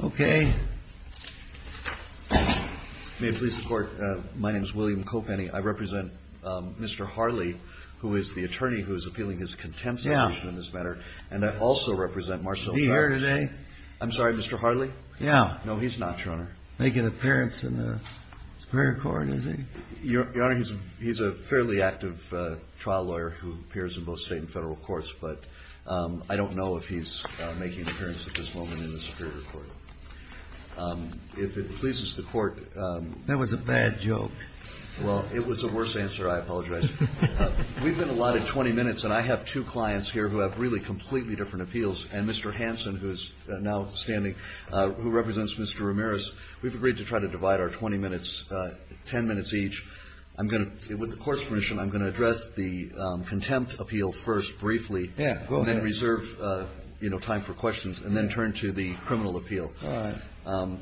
Okay. May it please the court, my name is William Kopany. I represent Mr. Harley, who is the attorney who is appealing his contempt sentence in this matter. Yeah. And I also represent Marcelle Charles. Is he here today? I'm sorry, Mr. Harley? Yeah. No, he's not, Your Honor. Making an appearance in the Superior Court, is he? Your Honor, he's a fairly active trial lawyer who appears in both state and federal courts, but I don't know if he's making an appearance at this moment in the Superior Court. If it pleases the court— That was a bad joke. Well, it was a worse answer. I apologize. We've been allotted 20 minutes, and I have two clients here who have really completely different appeals, and Mr. Hansen, who is now standing, who represents Mr. Ramirez, we've agreed to try to divide our 20 minutes—10 minutes each. With the Court's permission, I'm going to address the contempt appeal first briefly— Yeah, go ahead. —and then reserve time for questions, and then turn to the criminal appeal. All right.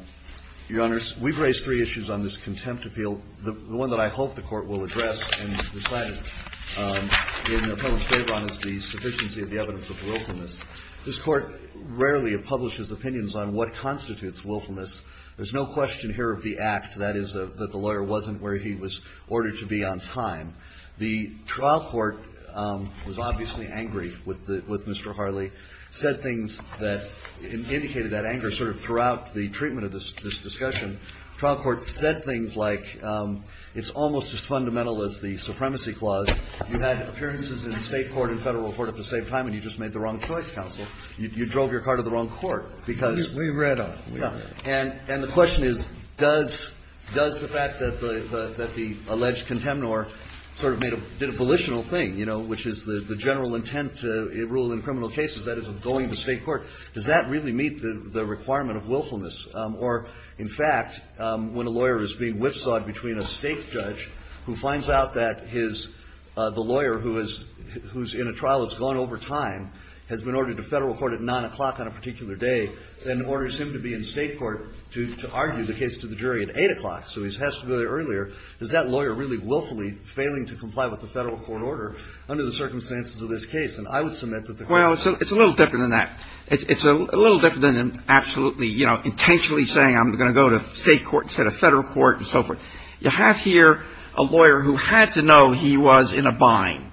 Your Honors, we've raised three issues on this contempt appeal. The one that I hope the Court will address and decide in the public's favor on is the sufficiency of the evidence of wilfulness. This Court rarely publishes opinions on what constitutes wilfulness. There's no question here of the act, that is, that the lawyer wasn't where he was ordered to be on time. The trial court was obviously angry with Mr. Harley, said things that indicated that anger sort of throughout the treatment of this discussion. Trial court said things like, it's almost as fundamental as the supremacy clause. You had appearances in state court and federal court at the same time, and you just made the wrong choice, counsel. You drove your car to the wrong court because— We read up. Yeah. And the question is, does the fact that the alleged contempt or sort of did a volitional thing, you know, which is the general intent to rule in criminal cases, that is, of going to state court, does that really meet the requirement of willfulness? Or, in fact, when a lawyer is being whipsawed between a state judge who finds out that the lawyer who's in a trial that's going over time has been ordered to federal court at Well, it's a little different than that. It's a little different than absolutely, you know, intentionally saying, I'm going to go to state court instead of federal court and so forth. You have here a lawyer who had to know he was in a bind.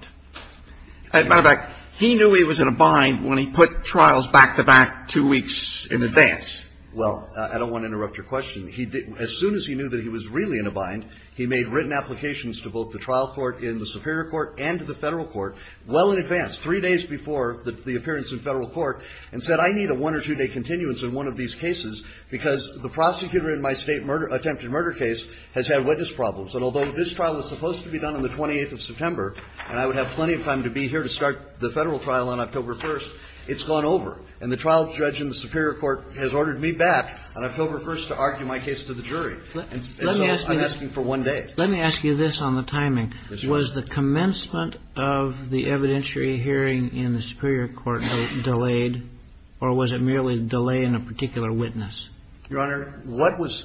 As a matter of fact, he knew he was in a bind when he put trials back-to-back two weeks No, I don't want to interrupt your question. As soon as he knew that he was really in a bind, he made written applications to both the trial court in the superior court and to the federal court well in advance, three days before the appearance in federal court, and said, I need a one- or two-day continuance in one of these cases because the prosecutor in my state attempted murder case has had witness problems. And although this trial was supposed to be done on the 28th of September, and I would have plenty of time to be here to start the federal trial on October 1st, it's gone over. And the trial judge in the superior court has ordered me back on October 1st to argue my case to the jury. And so I'm asking for one day. Let me ask you this on the timing. Was the commencement of the evidentiary hearing in the superior court delayed? Or was it merely a delay in a particular witness? Your Honor, what was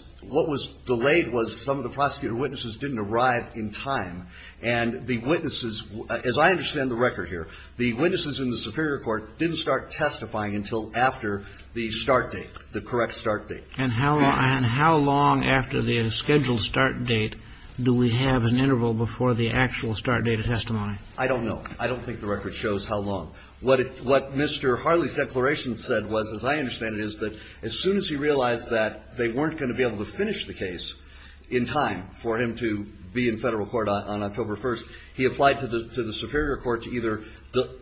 delayed was some of the prosecutor witnesses didn't arrive in time. And the witnesses, as I understand the record here, the witnesses in the superior court didn't start testifying until after the start date, the correct start date. And how long after the scheduled start date do we have an interval before the actual start date of testimony? I don't know. I don't think the record shows how long. What Mr. Harley's declaration said was, as I understand it, is that as soon as he realized that they weren't going to be able to finish the case in time for him to be in federal court on October 1st, he applied to the superior court to either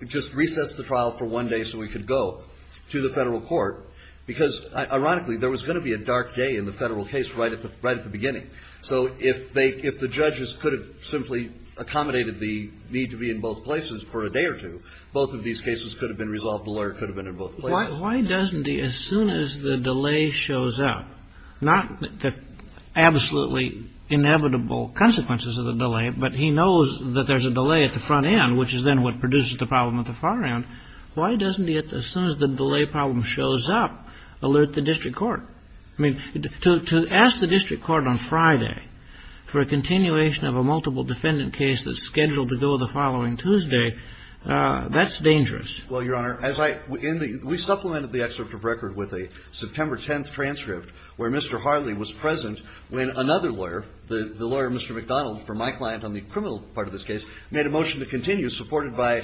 just recess the trial for one day so he could go to the federal court. Because, ironically, there was going to be a dark day in the federal case right at the beginning. So if the judges could have simply accommodated the need to be in both places for a day or two, both of these cases could have been resolved, the lawyer could have been in both places. Why doesn't he, as soon as the delay shows up, not the absolutely inevitable consequences of the delay, but he knows that there's a delay at the front end, which is then what Why doesn't he, as soon as the delay problem shows up, alert the district court? I mean, to ask the district court on Friday for a continuation of a multiple defendant case that's scheduled to go the following Tuesday, that's dangerous. Well, Your Honor, we supplemented the excerpt of record with a September 10th transcript where Mr. Harley was present when another lawyer, the lawyer, Mr. McDonald, for my client on the criminal part of this case, made a motion to continue supported by,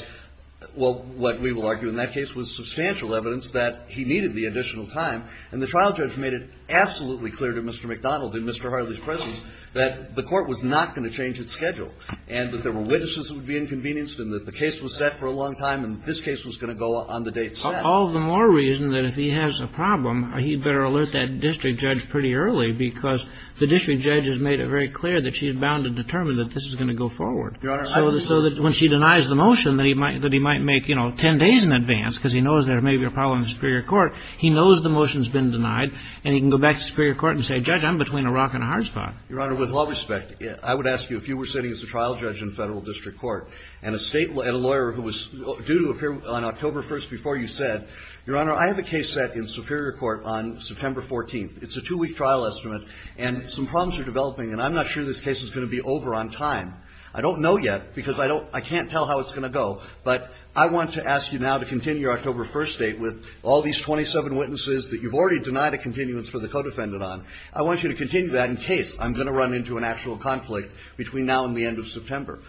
well, what we will argue in that case was substantial evidence that he needed the additional time, and the trial judge made it absolutely clear to Mr. McDonald and Mr. Harley's presence that the court was not going to change its schedule and that there were witnesses that would be inconvenienced and that the case was set for a long time and this case was going to go on the date set. All the more reason that if he has a problem, he better alert that district judge pretty early because the district judge has made it very clear that she's bound to determine that this is going to go forward. So that when she denies the motion that he might make, you know, 10 days in advance because he knows there may be a problem in Superior Court, he knows the motion's been denied and he can go back to Superior Court and say, Judge, I'm between a rock and a hard spot. Your Honor, with all respect, I would ask you if you were sitting as a trial judge in Federal District Court and a state, and a lawyer who was due to appear on October 1st before you said, Your Honor, I have a case set in Superior Court on September 14th. It's a two-week trial estimate and some problems are developing and I'm not sure this case is going to be over on time. I don't know yet because I can't tell how it's going to go. But I want to ask you now to continue your October 1st date with all these 27 witnesses that you've already denied a continuance for the co-defendant on. I want you to continue that in case I'm going to run into an actual conflict between now and the end of September.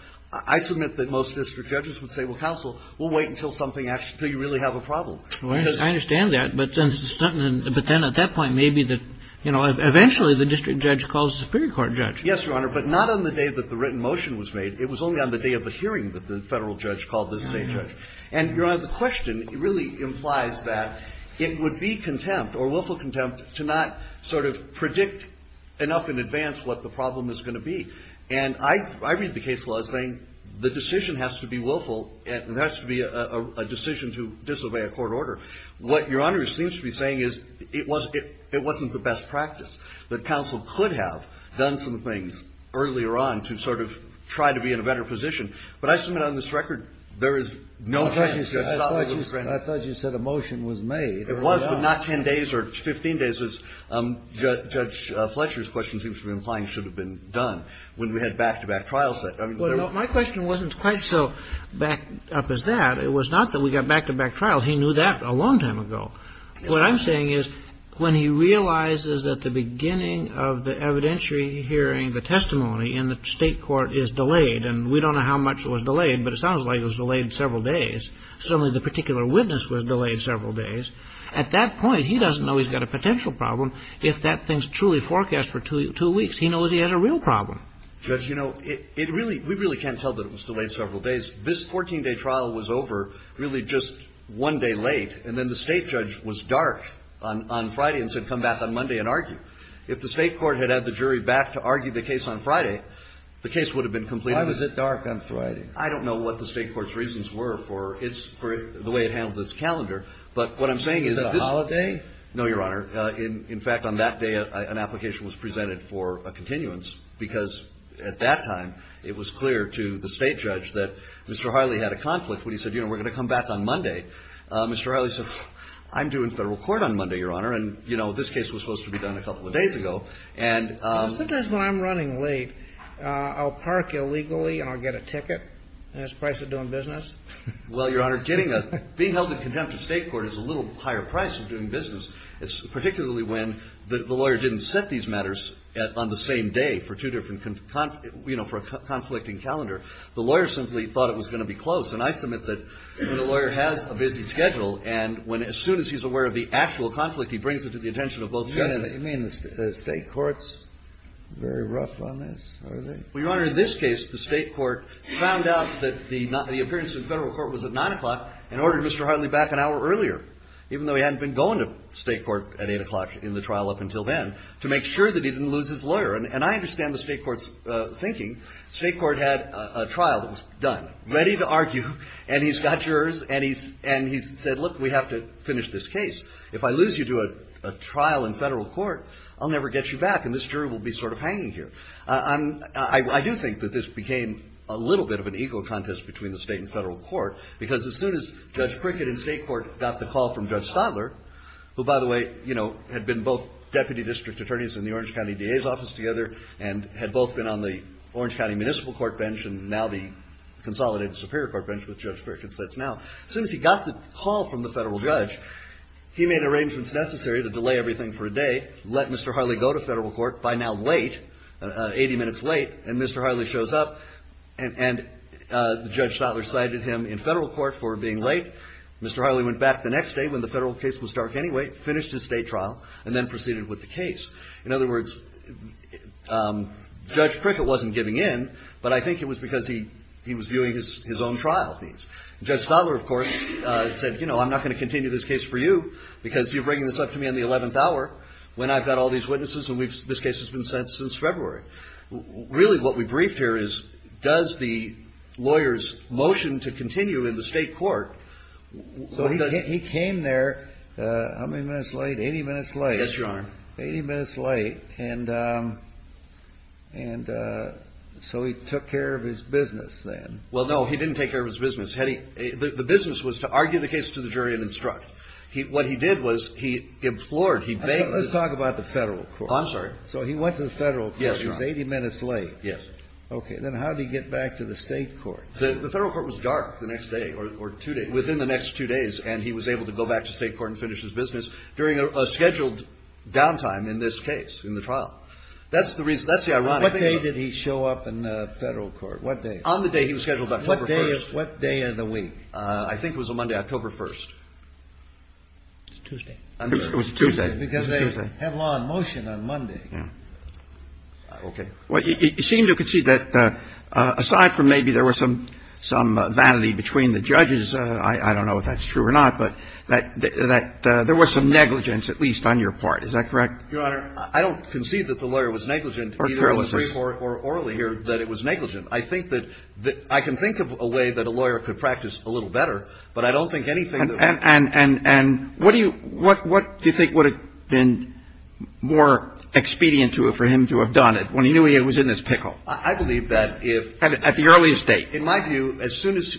I submit that most district judges would say, Well, counsel, we'll wait until you really have a problem. I understand that, but then at that point, maybe eventually the district judge calls the Superior Court judge. Yes, Your Honor, but not on the day that the written motion was made. It was only on the day of the hearing that the federal judge called the state judge. And, Your Honor, the question really implies that it would be contempt or willful contempt to not sort of predict enough in advance what the problem is going to be. And I read the case law saying the decision has to be willful and it has to be a decision to disobey a court order. What Your Honor seems to be saying is it wasn't the best practice. That counsel could have done some things earlier on to sort of try to be in a better position. But I submit on this record there is no chance. I thought you said a motion was made. It was, but not 10 days or 15 days as Judge Fletcher's question seems to be implying should have been done when we had back-to-back trials. My question wasn't quite so back up as that. It was not that we got back-to-back trials. He knew that a long time ago. What I'm saying is when he realizes at the beginning of the evidentiary hearing, the testimony in the state court is delayed and we don't know how much was delayed, but it sounds like it was delayed several days. Certainly the particular witness was delayed several days. At that point, he doesn't know he's got a potential problem if that thing is truly forecast for two weeks. He knows he has a real problem. Judge, you know, we really can't tell that it was delayed several days. This 14-day trial was over really just one day late. And then the state judge was dark on Friday and said, come back on Monday and argue. If the state court had had the jury back to argue the case on Friday, the case would have been completed. Why was it dark on Friday? I don't know what the state court's reasons were for the way it handled its calendar. But what I'm saying is... Is it a holiday? No, Your Honor. In fact, on that day, an application was presented for a continuance because at that time, it was clear to the state judge that Mr. Harley had a conflict when he said, you know, we're going to come back on Monday. Mr. Harley said, I'm due in federal court on Monday, Your Honor. And, you know, this case was supposed to be done a couple of days ago. And... Sometimes when I'm running late, I'll park illegally and I'll get a ticket. And it's the price of doing business. Well, Your Honor, getting the... Being held in contempt of state court is a little higher price of doing business. It's particularly when the lawyer didn't set these matters on the same day for two different conf... You know, for a conflicting calendar. The lawyer simply thought it was going to be closed. And I submit that when a lawyer has a busy schedule and when... As soon as he's aware of the actual conflict, he brings it to the attention of both judges. You mean the state court's very rough on this? Are they? Well, Your Honor, in this case, the state court found out that the appearance in federal court was at 9 o'clock and ordered Mr. Harley back an hour earlier, even though he hadn't been going to state court at 8 o'clock in the trial up until then, to make sure that And I understand the state court's thinking. State court had a trial that was done, ready to argue, and he's got jurors, and he said, look, we have to finish this case. If I lose you to a trial in federal court, I'll never get you back, and this jury will be sort of hanging here. I do think that this became a little bit of an ego contest between the state and federal court, because as soon as Judge Prickett in state court got the call from Judge Stadler, who, by the way, you know, had been both deputy district attorneys in the Orange County DA's office together and had both been on the Orange County Municipal Court bench and now the Consolidated Superior Court bench, which Judge Prickett sits now. As soon as he got the call from the federal judge, he made arrangements necessary to delay everything for a day, let Mr. Harley go to federal court, by now late, 80 minutes late, and Mr. Harley shows up, and Judge Stadler cited him in federal court for being late. Mr. Harley went back the next day, when the federal case was dark anyway, finished his state trial, and then proceeded with the case. In other words, Judge Prickett wasn't getting in, but I think it was because he was viewing his own trial. Judge Stadler, of course, said, you know, I'm not going to continue this case for you, because you're bringing this up to me on the 11th hour, when I've got all these witnesses, and this case has been sent since February. Really, what we briefed here is, does the lawyer's motion to continue in the state court... He came there, how many minutes late? 80 minutes late? Yes, Your Honor. 80 minutes late, and so he took care of his business then. Well, no, he didn't take care of his business. The business was to argue the case to the jury and instruct. What he did was, he implored, he begged... Let's talk about the federal court. I'm sorry. So he went to the federal court, he was 80 minutes late. Yes. Okay, then how did he get back to the state court? The federal court was dark the next day, or two days, within the next two days, and he was able to go back to the state court and finish his business during a scheduled downtime in this case, in the trial. That's the reason, that's the irony. What day did he show up in the federal court? What day? On the day he was scheduled, October 1st. What day of the week? I think it was a Monday, October 1st. It was Tuesday. It was Tuesday. Because they have law in motion on Monday. Okay. Well, you seem to concede that, aside from maybe there was some vanity between the judges, I don't know if that's true or not, but there was some negligence, at least on your part. Is that correct? Your Honor, I don't concede that the lawyer was negligent. Or fairly so. Orally here, that it was negligent. I think that, I can think of a way that a lawyer could practice a little better, but I don't think anything... And what do you think would have been more expedient for him to have done it, when he knew he was in this pickle? I believe that if... At the earliest date. In my view, as soon as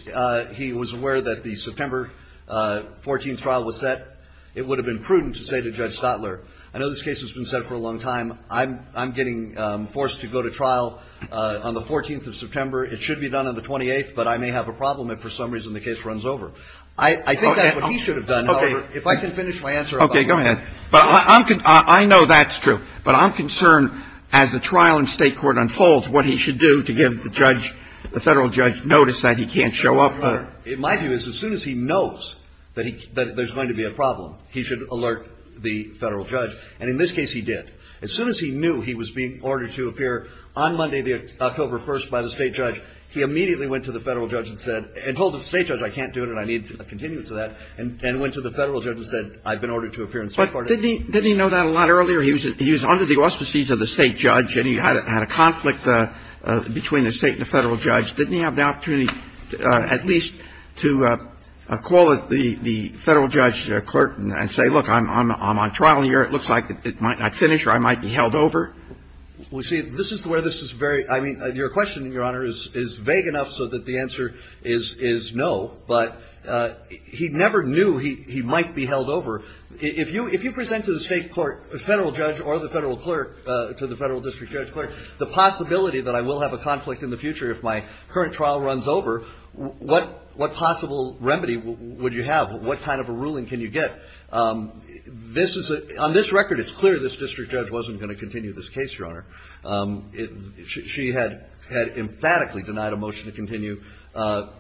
he was aware that the September 14th trial was set, it would have been prudent to say to Judge Stotler, I know this case has been set for a long time, I'm getting forced to go to trial on the 14th of September, it should be done on the 28th, but I may have a problem if for some reason the case runs over. I think that's what he should have done. If I can finish my answer... Okay, go ahead. I know that's true. But I'm concerned, as the trial in state court unfolds, what he should do to give the federal judge notice that he can't show up. My view is, as soon as he knows that there's going to be a problem, he should alert the federal judge. And in this case, he did. As soon as he knew he was being ordered to appear on Monday, October 1st, by the state judge, he immediately went to the federal judge and told the state judge, I can't do it and I need a continuance of that, and went to the federal judge and said, I've been ordered to appear on Sunday. But didn't he know that a lot earlier? He was under the auspices of the state judge, and he had a conflict between the state and the federal judge. Didn't he have the opportunity at least to call the federal judge's court and say, look, I'm on trial here, it looks like I might not finish or I might be held over? Well, see, this is the way this is very... Your question, Your Honor, is vague enough so that the answer is no, but he never knew he might be held over. If you present to the state court a federal judge or the federal clerk, to the federal district judge's court, the possibility that I will have a conflict in the future if my current trial runs over, what possible remedy would you have? What kind of a ruling can you get? On this record, it's clear this district judge wasn't going to continue this case, Your Honor. She had emphatically denied a motion to continue on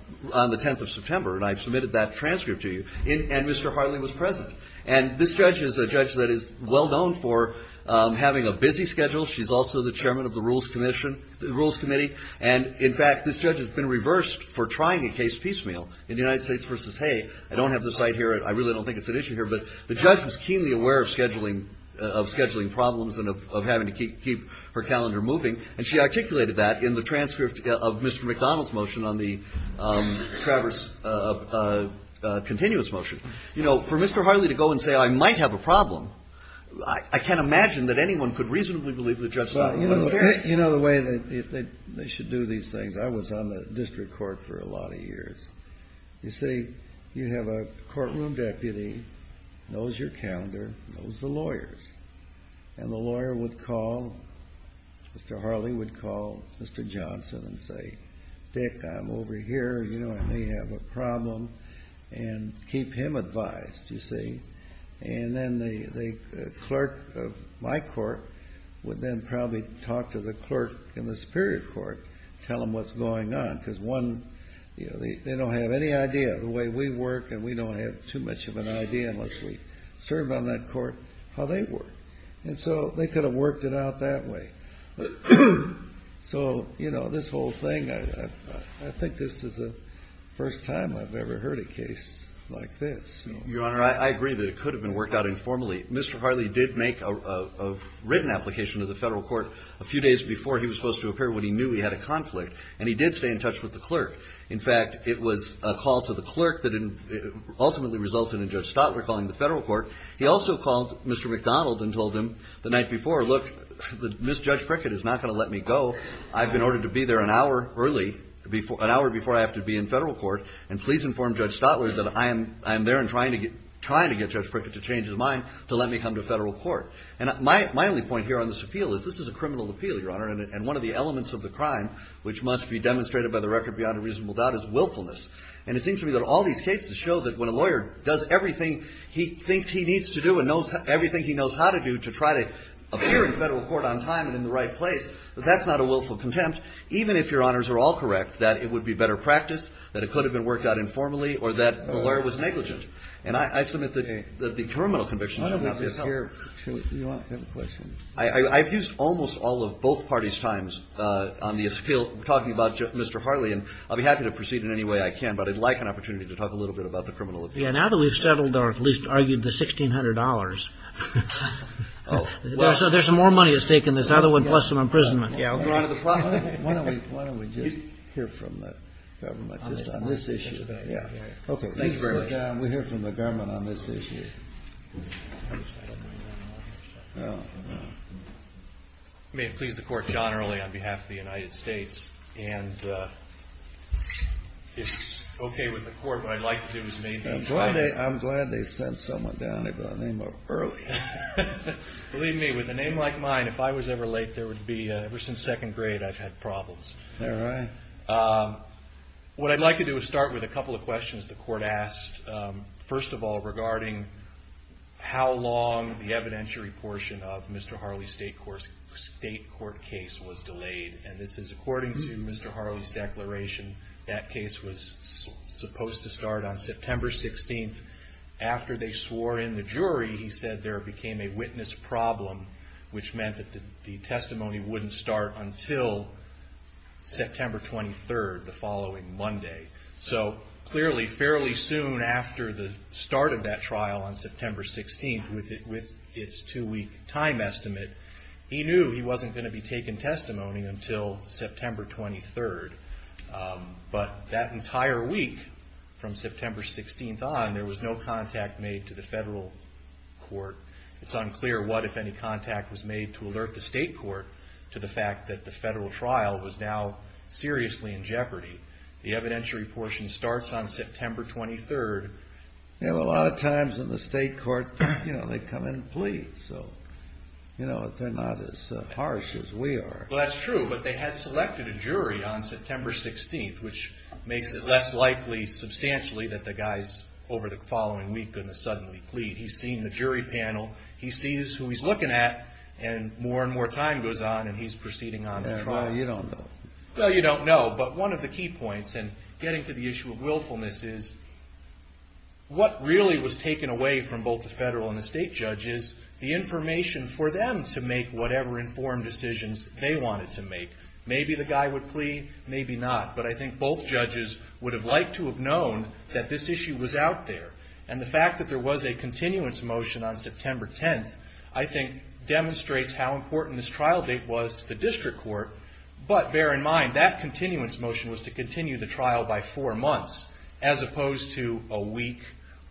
the 10th of September, and I've submitted that transcript to you. And Mr. Harley was present. And this judge is a judge that is well known for having a busy schedule. She's also the chairman of the Rules Committee. And, in fact, this judge has been reversed for trying to case piecemeal in the United States versus, hey, I don't have this right here, I really don't think it's an issue here. But the judge was keenly aware of scheduling problems and of having to keep her calendar moving, and she articulated that in the transcript of Mr. McDonald's motion on the Travers continuous motion. You know, for Mr. Harley to go and say, I might have a problem, I can't imagine that anyone could reasonably believe that Judge Steinberg would care. You know the way that they should do these things. You see, you have a courtroom deputy, knows your calendar, knows the lawyers. And the lawyer would call, Mr. Harley would call Mr. Johnson and say, Dick, I'm over here, you know, I may have a problem, and keep him advised, you see. And then the clerk of my court would then probably talk to the clerk in the Superior Court, tell him what's going on, because one, you know, they don't have any idea of the way we work, and we don't have too much of an idea unless we serve on that court how they work. And so they could have worked it out that way. So, you know, this whole thing, I think this is the first time I've ever heard a case like this. Your Honor, I agree that it could have been worked out informally. Mr. Harley did make a written application to the federal court a few days before he was supposed to appear, when he knew he had a conflict, and he did stay in touch with the clerk. In fact, it was a call to the clerk that ultimately resulted in Judge Stotler calling the federal court. He also called Mr. McDonald and told him the night before, look, Ms. Judge Prickett is not going to let me go. I've been ordered to be there an hour early, an hour before I have to be in federal court, and please inform Judge Stotler that I am there and trying to get Judge Prickett to change his mind, to let me come to federal court. And my only point here on this appeal is this is a criminal appeal, Your Honor, and one of the elements of the crime which must be demonstrated by the record beyond a reasonable doubt is willfulness. And it seems to me that all these cases show that when a lawyer does everything he thinks he needs to do and knows everything he knows how to do to try to appear in federal court on time and in the right place, that that's not a willful contempt, even if Your Honors are all correct, that it would be better practiced, that it could have been worked out informally, or that the lawyer was negligent. And I submit that the criminal conviction should not be a problem. I've used almost all of both parties' times on the appeal, talking about Mr. Harley, and I'll be happy to proceed in any way I can, but I'd like an opportunity to talk a little bit about the criminal appeal. Yeah, now that we've settled or at least argued the $1,600. So there's more money at stake in this. That'll include some imprisonment. Why don't we just hear from the government just on this issue. Okay, we'll hear from the government on this issue. May it please the Court, John Harley on behalf of the United States. And it's okay with the Court, but I'd like to do his name. I'm glad they sent someone down here by the name of Earl. Believe me, with a name like mine, if I was ever late, there would be, ever since second grade, I've had problems. Is that right? What I'd like to do is start with a couple of questions the Court asked. First of all, regarding how long the evidentiary portion of Mr. Harley's state court case was delayed. And this is according to Mr. Harley's declaration. That case was supposed to start on September 16th. After they swore in the jury, he said there became a witness problem, which meant that the testimony wouldn't start until September 23rd, the following Monday. So clearly, fairly soon after the start of that trial on September 16th, with its two-week time estimate, he knew he wasn't going to be taking testimony until September 23rd. But that entire week from September 16th on, there was no contact made to the federal court. It's unclear what, if any, contact was made to alert the state court to the fact that the federal trial was now seriously in jeopardy. The evidentiary portion starts on September 23rd. You know, a lot of times in the state court, you know, they come in and plead. So, you know, they're not as harsh as we are. Well, that's true, but they had selected a jury on September 16th, which made it less likely, substantially, that the guys over the following week are going to suddenly plead. He's seen the jury panel. He sees who he's looking at, and more and more time goes on, and he's proceeding on the trial. Well, you don't know. Well, you don't know, but one of the key points in getting to the issue of willfulness is, what really was taken away from both the federal and the state judges, the information for them to make whatever informed decisions they wanted to make. Maybe the guy would plead, maybe not. But I think both judges would have liked to have known that this issue was out there. And the fact that there was a continuance motion on September 10th, I think, demonstrates how important this trial date was to the district court. But bear in mind, that continuance motion was to continue the trial by four months, as opposed to a week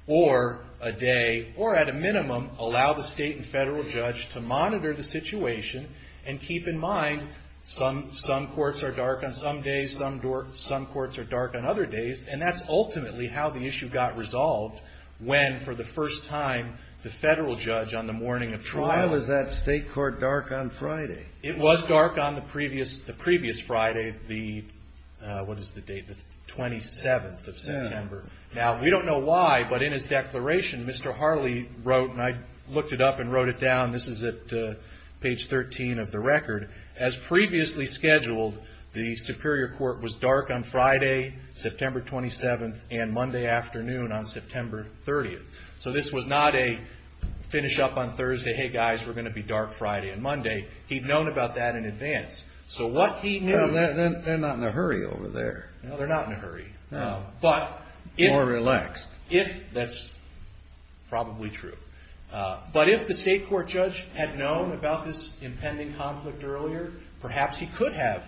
or a day, or at a minimum, allow the state and federal judge to monitor the situation and keep in mind, some courts are dark on some days, some courts are dark on other days, and that's ultimately how the issue got resolved when, for the first time, the federal judge on the morning of trial. Why was that state court dark on Friday? It was dark on the previous Friday, the 27th of September. Now, we don't know why, but in his declaration, Mr. Harley wrote, and I looked it up and wrote it down, this is at page 13 of the record, as previously scheduled, the superior court was dark on Friday, September 27th, and Monday afternoon on September 30th. So this was not a finish up on Thursday, hey guys, we're going to be dark Friday and Monday. He'd known about that in advance. So what he knew... They're not in a hurry over there. They're not in a hurry. No. More relaxed. That's probably true. But if the state court judge had known about this impending conflict earlier, perhaps he could have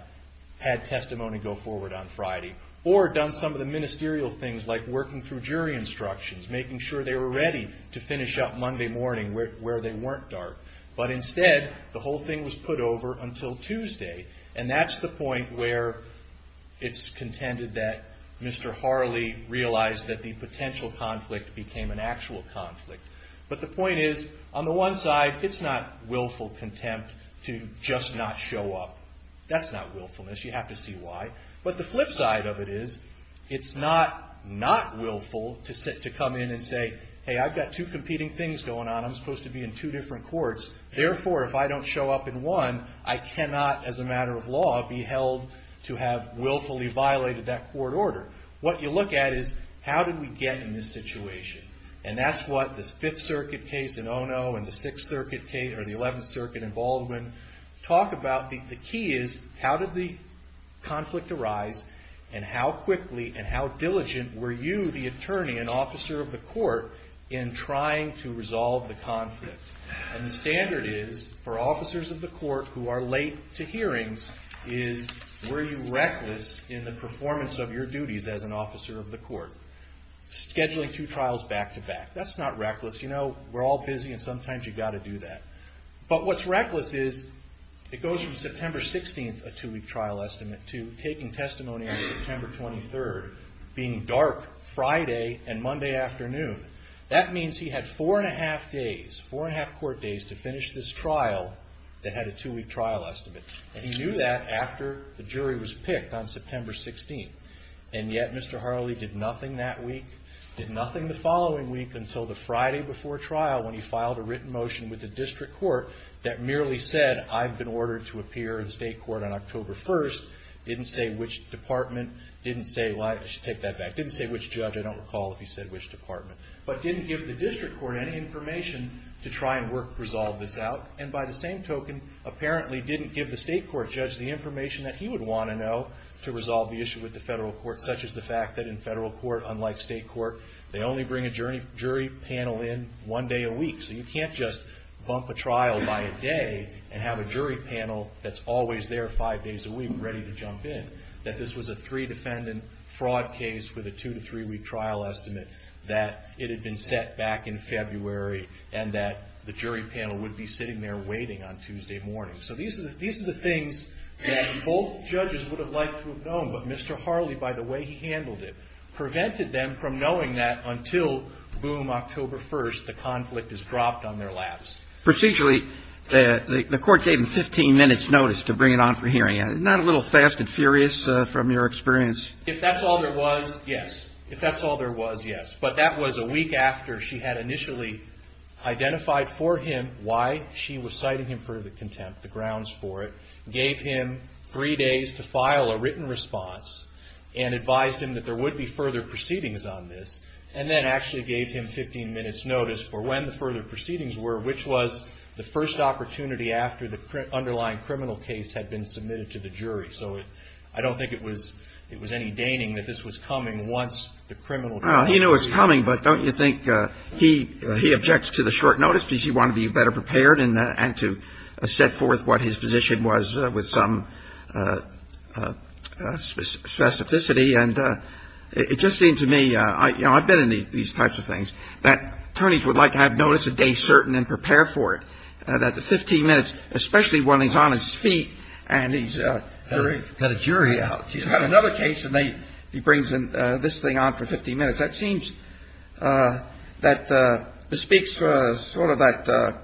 had testimony go forward on Friday or done some of the ministerial things like working through jury instructions, making sure they were ready to finish up Monday morning where they weren't dark. But instead, the whole thing was put over until Tuesday, and that's the point where it's contended that Mr. Harley realized that the potential conflict became an actual conflict. But the point is, on the one side, it's not willful contempt to just not show up. That's not willfulness. You have to see why. But the flip side of it is it's not not willful to come in and say, hey, I've got two competing things going on. I'm supposed to be in two different courts. Therefore, if I don't show up in one, I cannot, as a matter of law, be held to have willfully violated that court order. What you look at is, how did we get in this situation? And that's what the Fifth Circuit case in Ono and the Sixth Circuit case or the Eleventh Circuit in Baldwin talk about. The key is, how did the conflict arise, and how quickly and how diligent were you, the attorney and officer of the court, in trying to resolve the conflict? And the standard is, for officers of the court who are late to hearings, is, were you reckless in the performance of your duties as an officer of the court? Scheduling two trials back-to-back. That's not reckless. You know, we're all busy, and sometimes you've got to do that. But what's reckless is, it goes from September 16th, a two-week trial estimate, to taking testimony on September 23rd, being dark Friday and Monday afternoon. That means he had four and a half days, four and a half court days, to finish this trial that had a two-week trial estimate. And he knew that after the jury was picked on September 16th. And yet, Mr. Harley did nothing that week, did nothing the following week, until the Friday before trial when he filed a written motion with the district court that merely said, I've been ordered to appear in state court on October 1st, didn't say which department, didn't say, well, I should take that back, didn't say which judge, I don't recall if he said which department, but didn't give the district court any information to try and work, resolve the doubt, and by the same token, apparently didn't give the state court judge the information that he would want to know to resolve the issue with the federal court, such as the fact that in federal court, unlike state court, they only bring a jury panel in one day a week. So you can't just bump a trial by a day, and have a jury panel that's always there five days a week, ready to jump in. That this was a three-defendant fraud case with a two- to three-week trial estimate, that it had been set back in February, and that the jury panel would be sitting there waiting on Tuesday morning. So these are the things that both judges would have liked to have known, but Mr. Harley, by the way he handled it, prevented them from knowing that until, boom, October 1st, the conflict is dropped on their laps. Procedurally, the court gave him 15 minutes' notice to bring it on for hearing. Not a little fast and furious from your experience? If that's all there was, yes. If that's all there was, yes. But that was a week after she had initially identified for him why she was citing him for the contempt, the grounds for it, gave him three days to file a written response, and advised him that there would be further proceedings on this, and then actually gave him 15 minutes' notice for when the further proceedings were, which was the first opportunity after the underlying criminal case had been submitted to the jury. So I don't think it was any deigning that this was coming once the criminal case was submitted. Well, he knew it was coming, but don't you think he objects to the short notice because he wanted to be better prepared and to set forth what his position was with some specificity. And it just seemed to me, you know, I've been in these types of things, that attorneys would like to have notice a day certain and prepare for it. And that the 15 minutes, especially when he's on his feet and he's got a jury out, he's got another case and he brings this thing on for 15 minutes, that seems that it speaks sort of that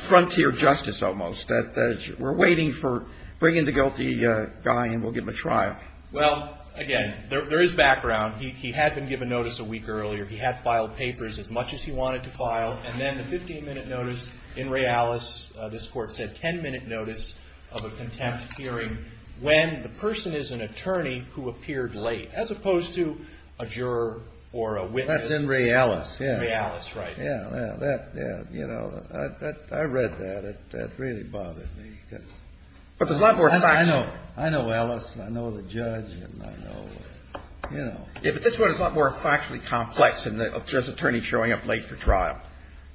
frontier justice almost, that we're waiting for bringing the guilty guy and we'll give him a trial. Well, again, there is background. He had been given notice a week earlier. He had filed papers as much as he wanted to file, and then the 15-minute notice in realis, this court said, 10-minute notice of a contempt hearing when the person is an attorney who appeared late, as opposed to a juror or a witness. That's in realis. Realis, right. Yeah, yeah. That, yeah, you know, I read that. That really bothered me. But there's a lot more facts. I know. I know, Alice, and I know the judge, and I know, you know. Yeah, but this one is a lot more factually complex, and there's an attorney showing up late for trial.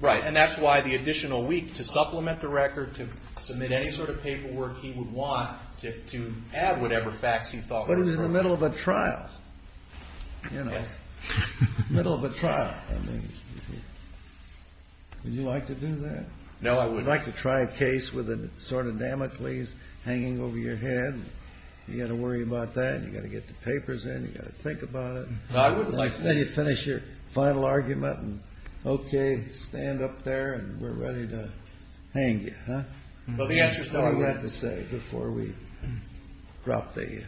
Right, and that's why the additional week to supplement the record, to submit any sort of paperwork he would want, to add whatever facts he thought were important. But it was in the middle of a trial. You know, middle of a trial. Would you like to do that? No, I wouldn't. Would you like to try a case with a sword of Damocles hanging over your head? You've got to worry about that. You've got to get the papers in. You've got to think about it. No, I wouldn't like that. Then you finish your final argument, and, okay, stand up there, and we're ready to hang you, huh? Well, the answer's not yet. What do we have to say before we drop the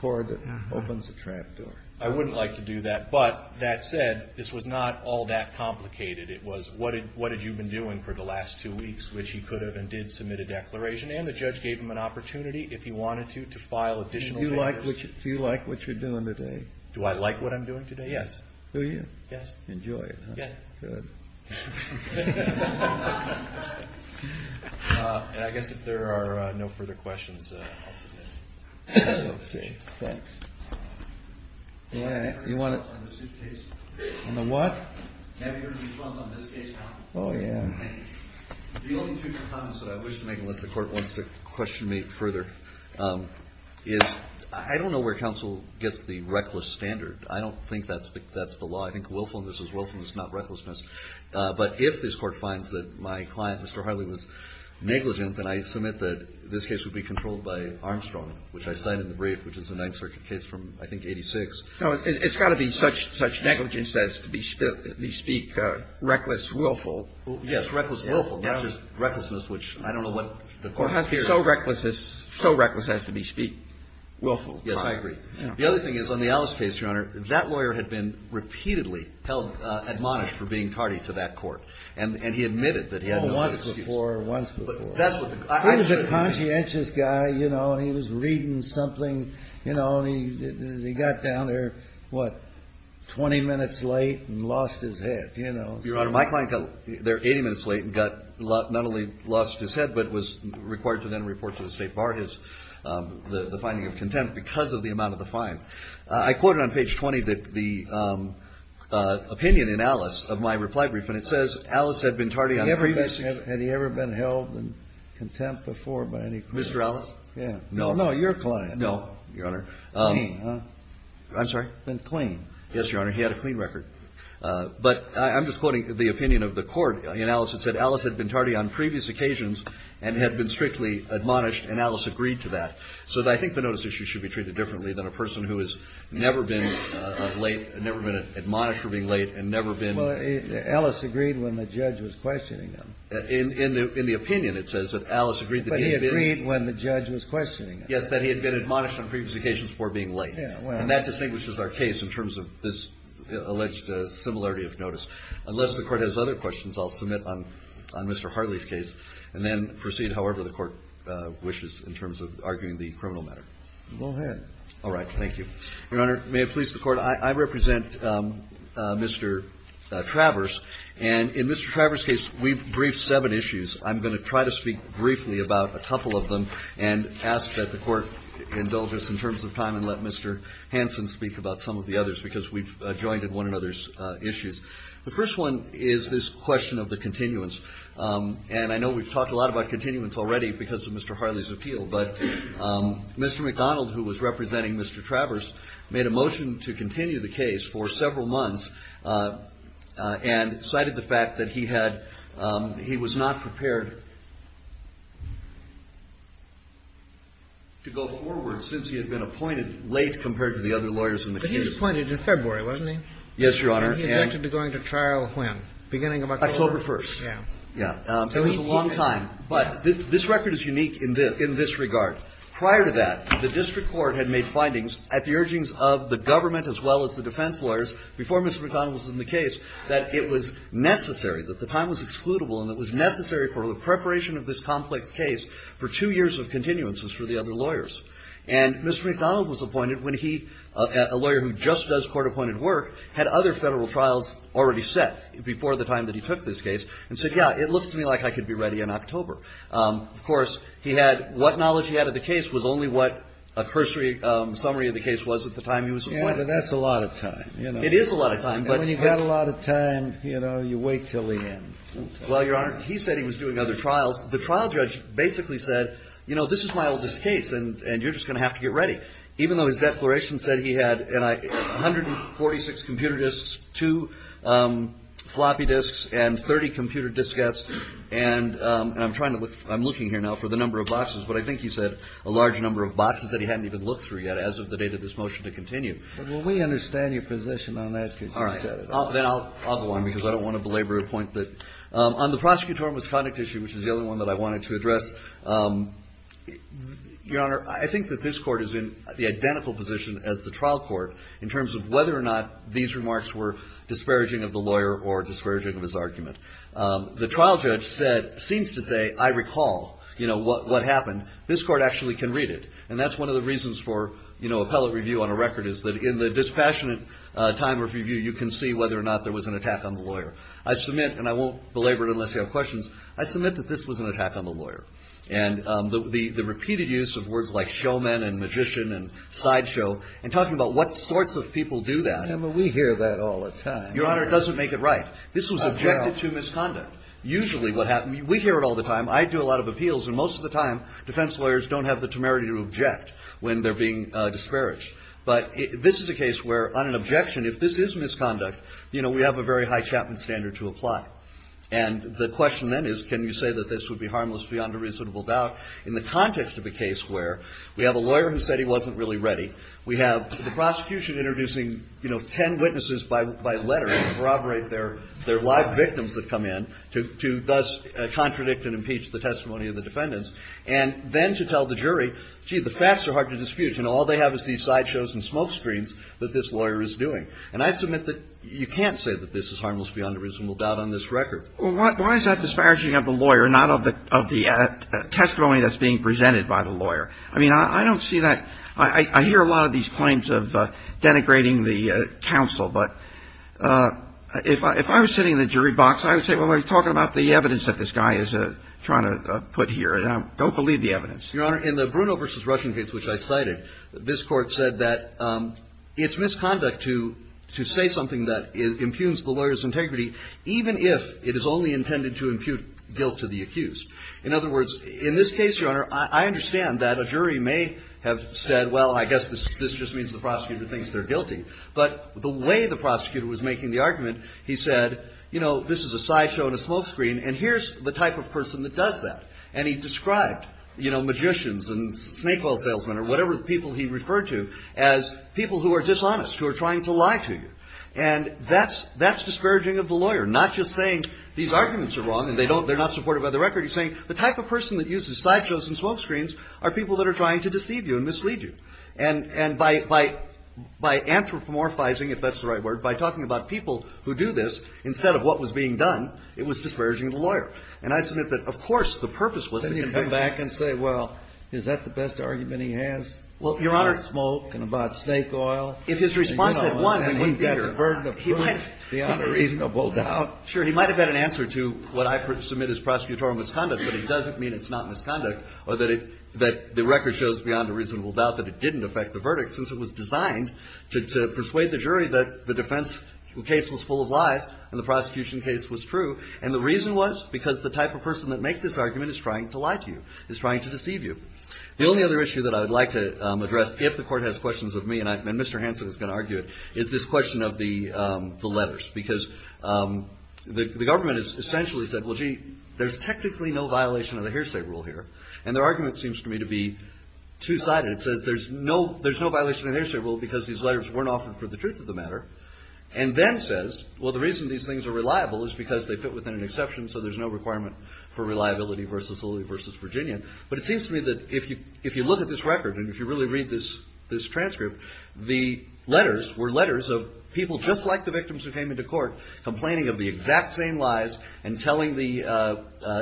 cord that opens the trapdoor? I wouldn't like to do that. But that said, this was not all that complicated. It was what had you been doing for the last two weeks, which you could have and did submit a declaration, and the judge gave him an opportunity, if he wanted to, to file additional papers. Do you like what you're doing today? Do I like what I'm doing today? Yes. Do you? Yes. Enjoy it, huh? Yes. Good. I guess if there are no further questions, I'll submit. Okay. Thanks. You want to? On the suitcase. On the what? Have you heard of the Trump on the suitcase conference? Oh, yeah. The only two comments that I wish to make, and that the Court wants to question me further, is I don't know where counsel gets the reckless standard. I don't think that's the law. I think willfulness is willfulness, not recklessness. But if this Court finds that my client, Mr. Harley, was negligent, then I submit that this case would be controlled by Armstrong, which I cite in the brief, which is a Ninth Circuit case from, I think, 86. No, it's got to be such negligence that it's, to speak, reckless, willful. Yes, reckless, willful. Not just recklessness, which I don't know what the Court fears. So reckless has to be speaking. Willful. Yes, I agree. The other thing is, on the Ellis case, Your Honor, that lawyer had been repeatedly held admonished for being tardy to that Court, and he admitted that he had no excuses. Once before, once before. He was a conscientious guy, you know. He was reading something, you know. He got down there, what, 20 minutes late and lost his head, you know. Your Honor, my client got there 80 minutes late and got, not only lost his head, but was required to then report to the State Bar his, the finding of contempt because of the amount of the fine. I quoted on page 20 the opinion in Ellis of my reply brief, and it says, Ellis had been tardy. Had he ever been held in contempt before by any client? Mr. Ellis? No, no, your client. No, Your Honor. Clean. I'm sorry? Clean. Yes, Your Honor. He had a clean record. But I'm just quoting the opinion of the Court. In Ellis it said, Ellis had been tardy on previous occasions and had been strictly admonished, and Ellis agreed to that. So I think the notice issue should be treated differently than a person who has never been late, never been admonished for being late, and never been… Well, Ellis agreed when the judge was questioning him. In the opinion it says that Ellis agreed that he had been… But he agreed when the judge was questioning him. Yes, that he had been admonished on previous occasions for being late. And that distinguishes our case in terms of this alleged similarity of notice. Unless the Court has other questions, I'll submit on Mr. Hartley's case and then proceed however the Court wishes in terms of arguing the criminal matter. Go ahead. All right, thank you. Your Honor, may it please the Court, I represent Mr. Travers, and in Mr. Travers' case we've briefed seven issues. I'm going to try to speak briefly about a couple of them and ask that the Court indulge us in terms of time and let Mr. Hanson speak about some of the others because we've joined in one another's issues. The first one is this question of the continuance. And I know we've talked a lot about continuance already because of Mr. Hartley's appeal, but Mr. McDonald, who was representing Mr. Travers, made a motion to continue the case for several months and cited the fact that he was not prepared to go forward since he had been appointed late compared to the other lawyers in the case. But he was appointed in February, wasn't he? Yes, Your Honor. And he objected to going to trial when? October 1st. October 1st. Yeah. It was a long time. But this record is unique in this regard. Prior to that, the District Court had made findings at the urgings of the government as well as the defense lawyers before Mr. McDonald was in the case that it was necessary, that the time was excludable, and it was necessary for the preparation of this complex case for two years of continuances for the other lawyers. And Mr. McDonald was appointed when he, a lawyer who just does court-appointed work, had other federal trials already set before the time that he took this case and said, yeah, it looks to me like I could be ready in October. Of course, what knowledge he had of the case was only what a cursory summary of the case was at the time he was appointed. Yeah, that's a lot of time. It is a lot of time. And when you've got a lot of time, you wait until the end. Well, Your Honor, he said he was doing other trials. The trial judge basically said, you know, this is my oldest case, and you're just going to have to get ready. Even though his declaration said he had 146 computer disks, two floppy disks, and 30 computer diskettes, and I'm looking here now for the number of boxes, but I think he said a large number of boxes that he hadn't even looked through yet as of the date of this motion to continue. Well, we understand your position on that. All right. Then I'll go on, because I don't want to belabor a point. On the prosecutorial misconduct issue, which is the only one that I wanted to address, Your Honor, I think that this Court is in the identical position as the trial court in terms of whether or not these remarks were disparaging of the lawyer or disparaging of his argument. The trial judge said, since the day I recall what happened, this Court actually can read it. And that's one of the reasons for appellate review on a record is that in the dispassionate time review, you can see whether or not there was an attack on the lawyer. I submit, and I won't belabor it unless you have questions, I submit that this was an attack on the lawyer. And the repeated use of words like showman and magician and sideshow and talking about what sorts of people do that. Well, we hear that all the time. Your Honor, it doesn't make it right. This was objected to misconduct. Usually what happens, we hear it all the time, I do a lot of appeals, and most of the time defense lawyers don't have the temerity to object when they're being disparaged. But this is a case where, on an objection, if this is misconduct, we have a very high Chapman standard to apply. And the question then is, can you say that this would be harmless beyond a reasonable doubt in the context of a case where we have a lawyer who said he wasn't really ready. We have the prosecution introducing 10 witnesses by letter to corroborate their live victims that come in to thus contradict and impeach the testimony of the defendants. And then to tell the jury, gee, the facts are hard to dispute. All they have is these sideshows and smoke screens that this lawyer is doing. And I submit that you can't say that this is harmless beyond a reasonable doubt on this record. Well, why is that disparaging of the lawyer, not of the testimony that's being presented by the lawyer? I mean, I don't see that. I hear a lot of these claims of denigrating the counsel. But if I was sitting in the jury box, I would say, well, we're talking about the evidence that this guy is trying to put here. And I don't believe the evidence. Your Honor, in the Bruno versus Rushing case, which I cited, this court said that it's misconduct to say something that impugns the lawyer's integrity, even if it is only intended to impute guilt to the accused. In other words, in this case, Your Honor, I understand that a jury may have said, well, I guess this just means the prosecutor thinks they're guilty. But the way the prosecutor was making the argument, he said, you know, this is a sideshow and a smoke screen. And here's the type of person that does that. And he described magicians and snake oil salesmen or whatever people he referred to as people who are dishonest, who are trying to lie to you. And that's discouraging of the lawyer, not just saying these arguments are wrong and they're not supported by the record. He's saying the type of person that uses sideshows and smoke screens are people that are trying to deceive you and mislead you. And by anthropomorphizing, if that's the right word, instead of what was being done, it was discouraging of the lawyer. And I submit that, of course, the purpose was to convince him. Then he'd come back and say, well, is that the best argument he has about smoke and about snake oil? If his response had won, he wouldn't be here. Then he'd get the burden of proof beyond a reasonable doubt. Sure. He might have had an answer to what I submit as prosecutorial misconduct. But it doesn't mean it's not misconduct or that the record shows beyond a reasonable doubt that it didn't affect the verdict since it was designed to persuade the jury that the defense case was full of lies and the prosecution case was true. And the reason was because the type of person that makes this argument is trying to lie to you, is trying to deceive you. The only other issue that I'd like to address, if the court has questions of me, and Mr. Hanson is going to argue it, is this question of the letters. Because the government has essentially said, well, gee, there's technically no violation of the hearsay rule here. And their argument seems to me to be two-sided. It says there's no violation of the hearsay rule because these letters weren't offered for the truth of the matter. And then says, well, the reason these things are reliable is because they fit within an exception, so there's no requirement for reliability versus Lilly versus Virginia. But it seems to me that if you look at this record and if you really read this transcript, the letters were letters of people just like the victims who came into court complaining of the exact same lies and telling the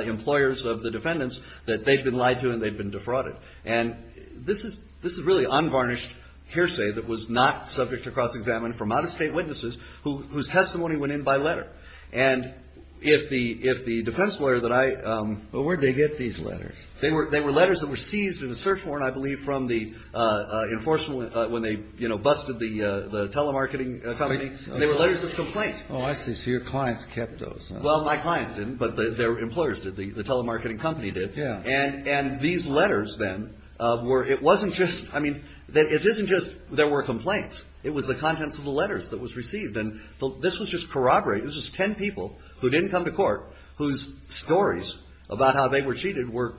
employers of the defendants that they'd been lied to and they'd been defrauded. And this is really unvarnished hearsay that was not subject to cross-examination from out-of-state witnesses whose testimony went in by letter. And if the defense lawyer that I... Well, where'd they get these letters? They were letters that were seized in a search warrant, I believe, from the enforcement when they busted the telemarketing company. They were letters of complaint. Oh, I see. So your clients kept those. Well, my clients didn't, but their employers did. The telemarketing company did. Yeah. And these letters, then, were... It wasn't just... I mean, it isn't just there were complaints. It was the contents of the letters that was received. And this was just corroborated. This was ten people who didn't come to court whose stories about how they were cheated were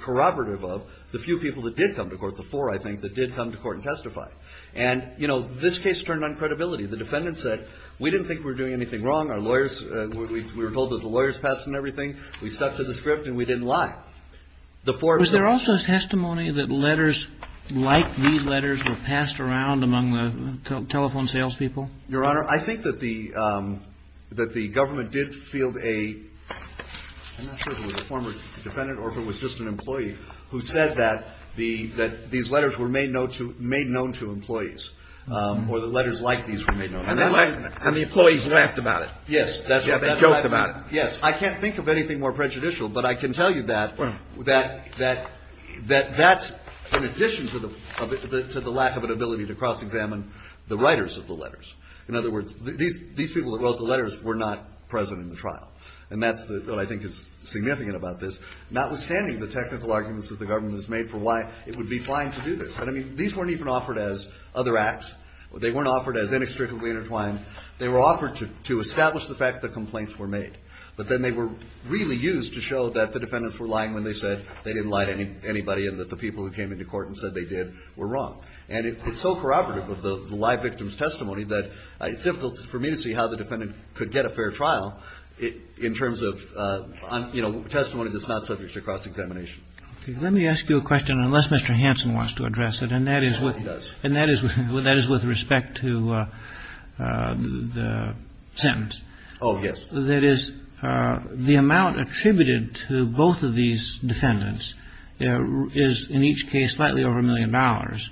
corroborative of the few people that did come to court before, I think, that did come to court and testify. And, you know, this case turned on credibility. The defendants said, we didn't think we were doing anything wrong. Our lawyers... We were told that the lawyers passed and everything. We stuck to the script and we didn't lie. Was there also testimony that letters like these letters were passed around among the telephone salespeople? Your Honor, I think that the government did field a... I'm not sure if it was a former defendant or if it was just an employee who said that these letters were made known to employees or that letters like these were made known. And the employees laughed about it. Yes. They joked about it. Yes. I can't think of anything more prejudicial, but I can tell you that that's in addition to the lack of an ability to cross-examine the writers of the letters. In other words, these people that wrote the letters were not present in the trial. And that's what I think is significant about this, notwithstanding the technical arguments that the government has made for why it would be fine to do this. I mean, these weren't even offered as other acts. They weren't offered as inextricably intertwined. They were offered to establish the fact that complaints were made. But then they were really used to show that the defendants were lying when they said they didn't lie to anybody and that the people who came into court and said they did were wrong. And it's so corroborative of the lie victim's testimony that it's difficult for me to see how the defendant could get a fair trial in terms of testimony that's not subject to cross-examination. Let me ask you a question, unless Mr. Hanson wants to address it, and that is with respect to the sentence. Oh, yes. That is, the amount attributed to both of these defendants is in each case slightly over a million dollars.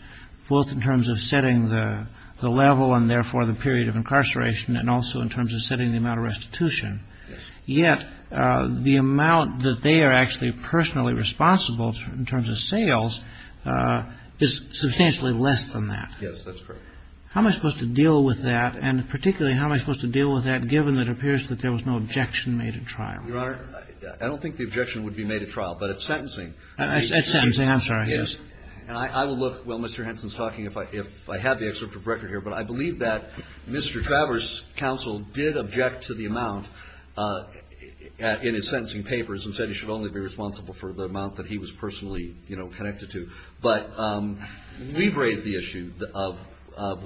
Both in terms of setting the level and therefore the period of incarceration and also in terms of setting the amount of restitution. Yet, the amount that they are actually personally responsible in terms of sales is substantially less than that. Yes, that's correct. How am I supposed to deal with that? And particularly, how am I supposed to deal with that given that it appears that there was no objection made at trial? Your Honor, I don't think the objection would be made at trial, but at sentencing... At sentencing, I'm sorry. I will look while Mr. Hanson is talking if I have the excerpt from the record here, but I believe that Mr. Travers' counsel did object to the amount in his sentencing papers and said he should only be responsible for the amount that he was personally connected to. But we've raised the issue of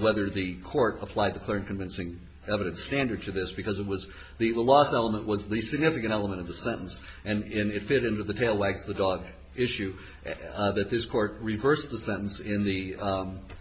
whether the court applied the clear and convincing evidence standard to this because the loss element was the significant element of the sentence and it fit into the tail wag the dog issue that this court reversed the sentence in the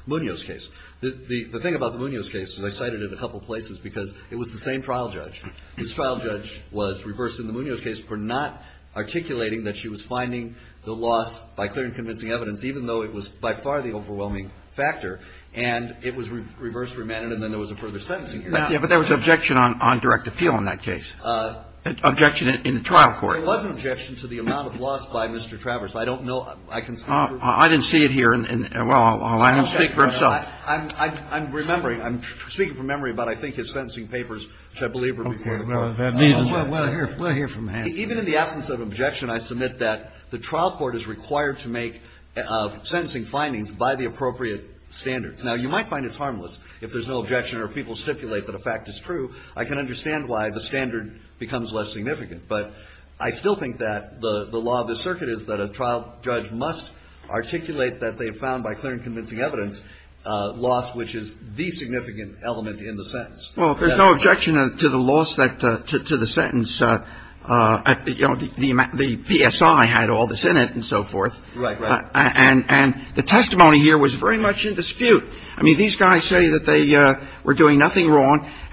Munoz case. The thing about the Munoz case, and I cited it a couple places, because it was the same trial judge. This trial judge was reversed in the Munoz case for not articulating that she was finding the loss by clear and convincing evidence even though it was by far the overwhelming factor and it was reversed for Mannon and then there was a further sentencing hearing. But there was objection on direct appeal in that case. Objection in the trial court. There was an objection to the amount of loss by Mr. Travers. I don't know. I didn't see it here. Well, I'll speak for myself. I'm remembering. I'm speaking from memory, but I think his sentencing papers, I believe, were reported. We'll hear from him. Even in the absence of objection, I submit that the trial court is required to make sentencing findings by the appropriate standards. Now, you might find it harmless if there's no objection or people stipulate that a fact is true. I can understand why the standard becomes less significant, but I still think that the law of the circuit is that a trial judge must articulate that they found by clear and convincing evidence loss which is the significant element in the sentence. Well, there's no objection to the loss to the sentence. The PSI had all this in it and so forth. Right, right. And the testimony here was very much in dispute. I mean, these guys say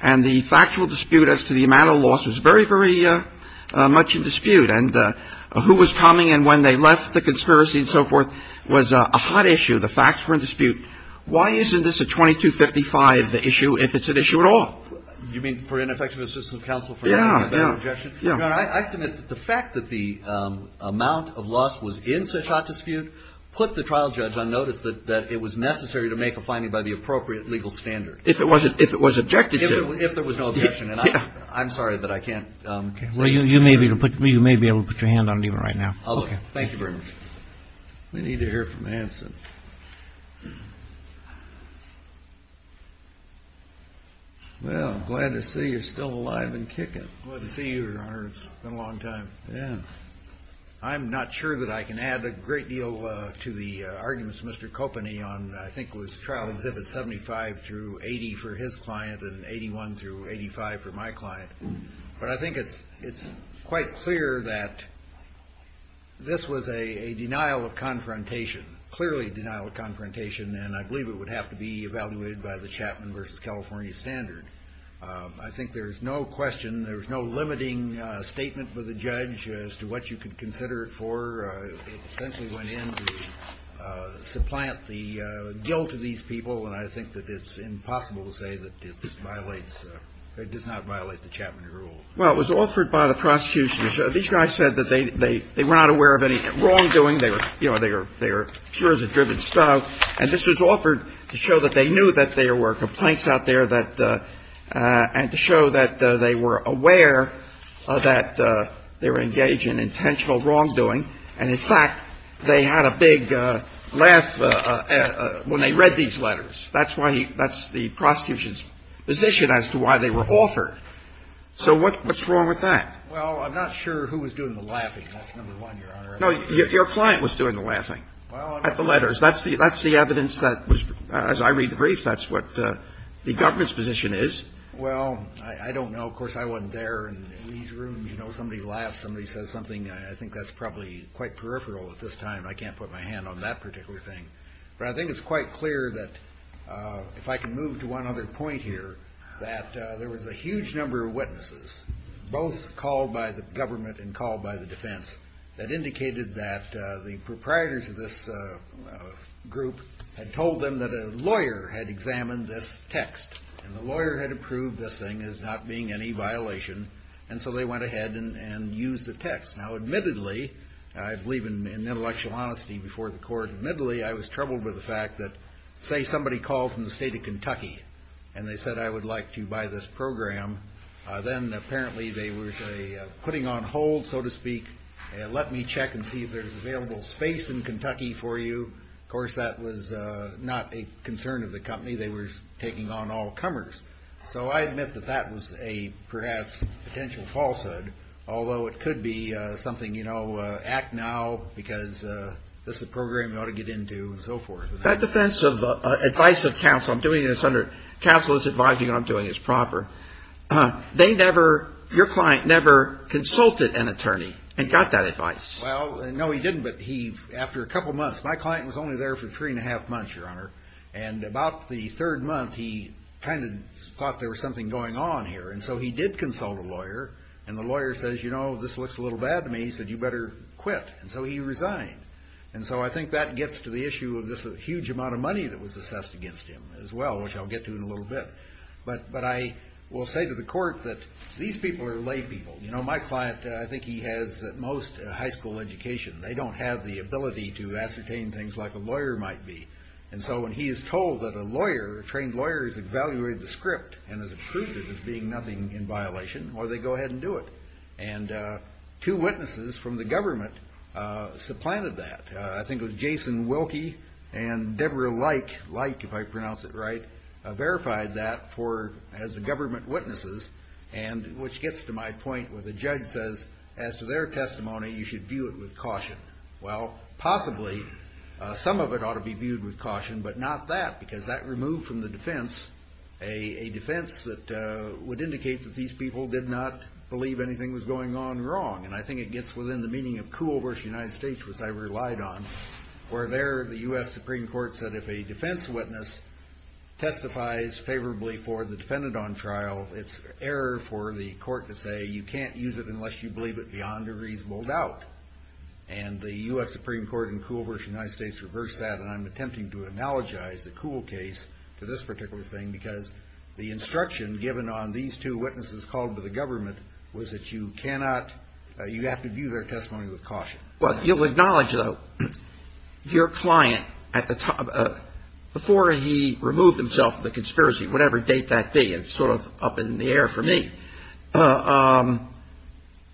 and the factual dispute as to the amount of loss was very, very much in dispute and who was coming and when they left the conspiracy and so forth was a hot issue. The facts were in dispute. Why isn't this a 2255, the issue, if it's an issue at all? You mean for ineffective assistance of counsel for having no objection? Yeah, yeah. I submit that the fact that the amount of loss was in such hot dispute put the trial judge on notice that it was necessary to make a finding by the appropriate legal standard. If it was objected to. If there was no objection. And I'm sorry, but I can't... Well, you may be able to put your hand on it right now. Oh, okay. Thank you very much. We need to hear from Hanson. Well, glad to see you're still alive and kicking. Glad to see you, Your Honor. It's been a long time. Yeah. I'm not sure that I can add a great deal to the arguments of Mr. Kopeny on I think it was trial exhibit 75 through 80 for his client and 81 through 85 for my client. But I think it's quite clear that this was a denial of confrontation. Clearly a denial of confrontation and I believe it would have to be evaluated by the Chapman versus California standard. I think there's no question, there's no limiting statement for the judge as to what you could consider it for. It essentially went in to supplant the guilt of these people and I think that it's impossible to say that it does not violate the Chapman rule. Well, it was offered by the prosecution. These guys said that they were not aware of any wrongdoing. They were sure as a driven stone and this was offered to show that they knew that there were complaints out there and to show that they were aware that they were engaged in intentional wrongdoing and in fact, they had a big laugh when they read these letters. That's the prosecution's position as to why they were altered. So what's wrong with that? Well, I'm not sure who was doing the laughing. That's number one, Your Honor. No, your client was doing the laughing at the letters. That's the evidence that was, as I read the briefs, that's what the government's position is. Well, I don't know. Of course, I wasn't there in these rooms. You know, somebody laughs, somebody says something. I think that's probably quite peripheral at this time. I can't put my hand on that particular thing. But I think it's quite clear that if I can move to one other point here, that there was a huge number of witnesses, both called by the government and called by the defense, that indicated that the proprietors of this group had told them that a lawyer had examined this text and the lawyer had approved this thing as not being any violation and so they went ahead and used the text. Now, admittedly, and I believe in intellectual honesty before the court admittedly, I was troubled with the fact that, say, somebody called from the state of Kentucky and they said, I would like to buy this program. Then, apparently, they were putting on hold, so to speak, let me check and see if there's available space in Kentucky for you. Of course, that was not a concern of the company. They were taking on all comers. So I admit that that was a, perhaps, potential falsehood, although it could be something, you know, act now because this is a program you ought to get into, and so forth. In the defense of advice of counsel, I'm doing this under counsel's advising, I'm doing this proper. They never, your client never consulted an attorney and got that advice. Well, no, he didn't, but he, after a couple months, my client was only there for three and a half months, your honor, and about the third month, he kind of thought there was something going on here, and so he did consult a lawyer, and the lawyer says, you know, this looks a little bad to me, he said, you better quit. And so he resigned. And so I think that gets to the issue of this huge amount of money that was assessed against him, as well, which I'll get to in a little bit. But I will say to the court that these people are lay people. You know, my client, I think he has, at most, a high school education. They don't have the ability to ascertain things like a lawyer might be. And so when he is told that a lawyer, a trained lawyer, has evaluated the script and has approved it as being nothing in violation, well, they go ahead and do it. And two witnesses from the government supplanted that. I think it was Jason Wilkie and Deborah Light, Light, if I pronounce it right, verified that as government witnesses, which gets to my point where the judge says, as to their testimony, you should view it with caution. Well, possibly, some of it ought to be viewed with caution, but not that, because that removed from the defense a defense that would indicate that these people did not believe anything was going on wrong. And I think it gets within the meaning of Kuhl versus United States, which I relied on, where there the U.S. Supreme Court said if a defense witness testifies favorably for the defendant on trial, it's error for the court to say you can't use it unless you believe it beyond a reasonable doubt. And the U.S. Supreme Court in Kuhl versus United States reversed that, and I'm attempting to analogize the Kuhl case to this particular thing because the instruction given on these two witnesses called by the government was that you cannot, you have to view their testimony with caution. You'll acknowledge, though, your client, before he removed himself from the conspiracy, whatever date that be, it's sort of up in the air for me,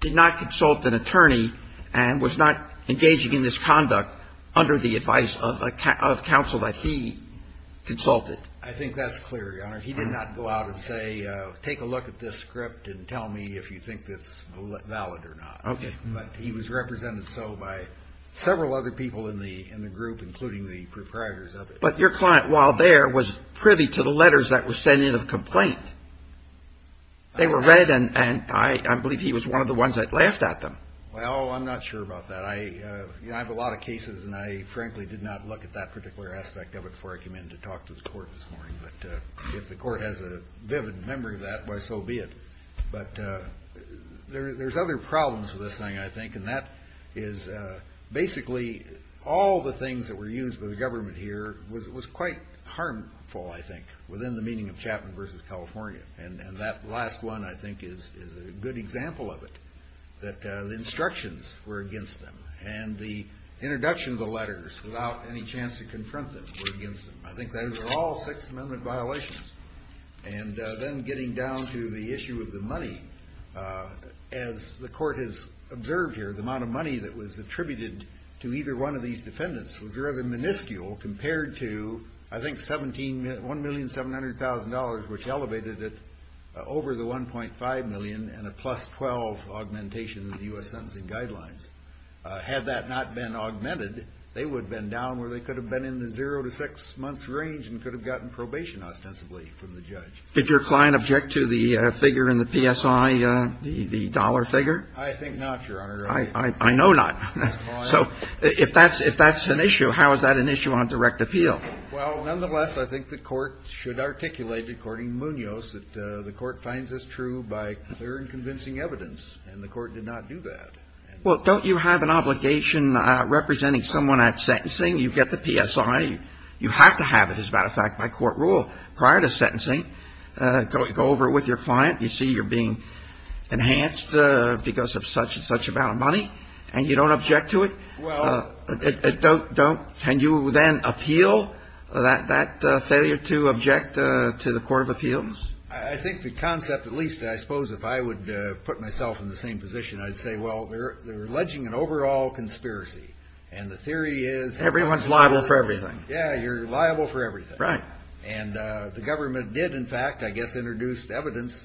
did not consult an attorney and was not engaging in this conduct under the advice of counsel that he consulted. I think that's clear. He did not go out and say, take a look at this script and tell me if you think it's valid or not. But he was represented so by several other people in the group, including the proprietors of it. But your client, while there, was privy to the letters that were sent in of complaint. They were read, and I believe he was one of the ones that laughed at them. Well, I'm not sure about that. I have a lot of cases, and I frankly did not look at that particular aspect of it before I came in to talk to the court this morning. But if the court has a vivid memory of that, why so be it. But there's other problems with this thing, I think, and that is basically all the things that were used by the government here was quite harmful, I think, within the meaning of Chapman v. California. And that last one, I think, is a good example of it, that the instructions were against them, and the introduction of the letters without any chance to confront them were against them. I think those are all Sixth Amendment violations. And then getting down to the issue of the money, as the court has observed here, the amount of money that was attributed to either one of these defendants was rather minuscule compared to, I think, $1,700,000, which elevated it over the $1.5 million and a plus 12 augmentation of the U.S. Sentencing Guidelines. Had that not been augmented, they would have been down where they could have been in the zero to six months range and could have gotten probation ostensibly from the judge. Did your client object to the figure in the PSI, the dollar figure? I think not, Your Honor. I know not. So, if that's an issue, how is that an issue on direct appeal? Well, nonetheless, I think the court should articulate, according to Munoz, that the court finds this true by clear and convincing evidence, and the court did not do that. Well, don't you have an obligation representing someone at sentencing? You've got the PSI. You have to have it, as a matter of fact, by court rule. Prior to sentencing, go over it with your client. You see you're being enhanced because of such and such amount of money, and you don't object to it? Well... And you then appeal that failure to object to the court of appeals? I think the concept, at least I suppose, if I would put myself in the same position, I'd say, well, they're alleging an overall conspiracy, and the theory is... Everyone's liable for everything. Yeah, you're liable for everything. Right. And the government did, in fact, I guess, introduce evidence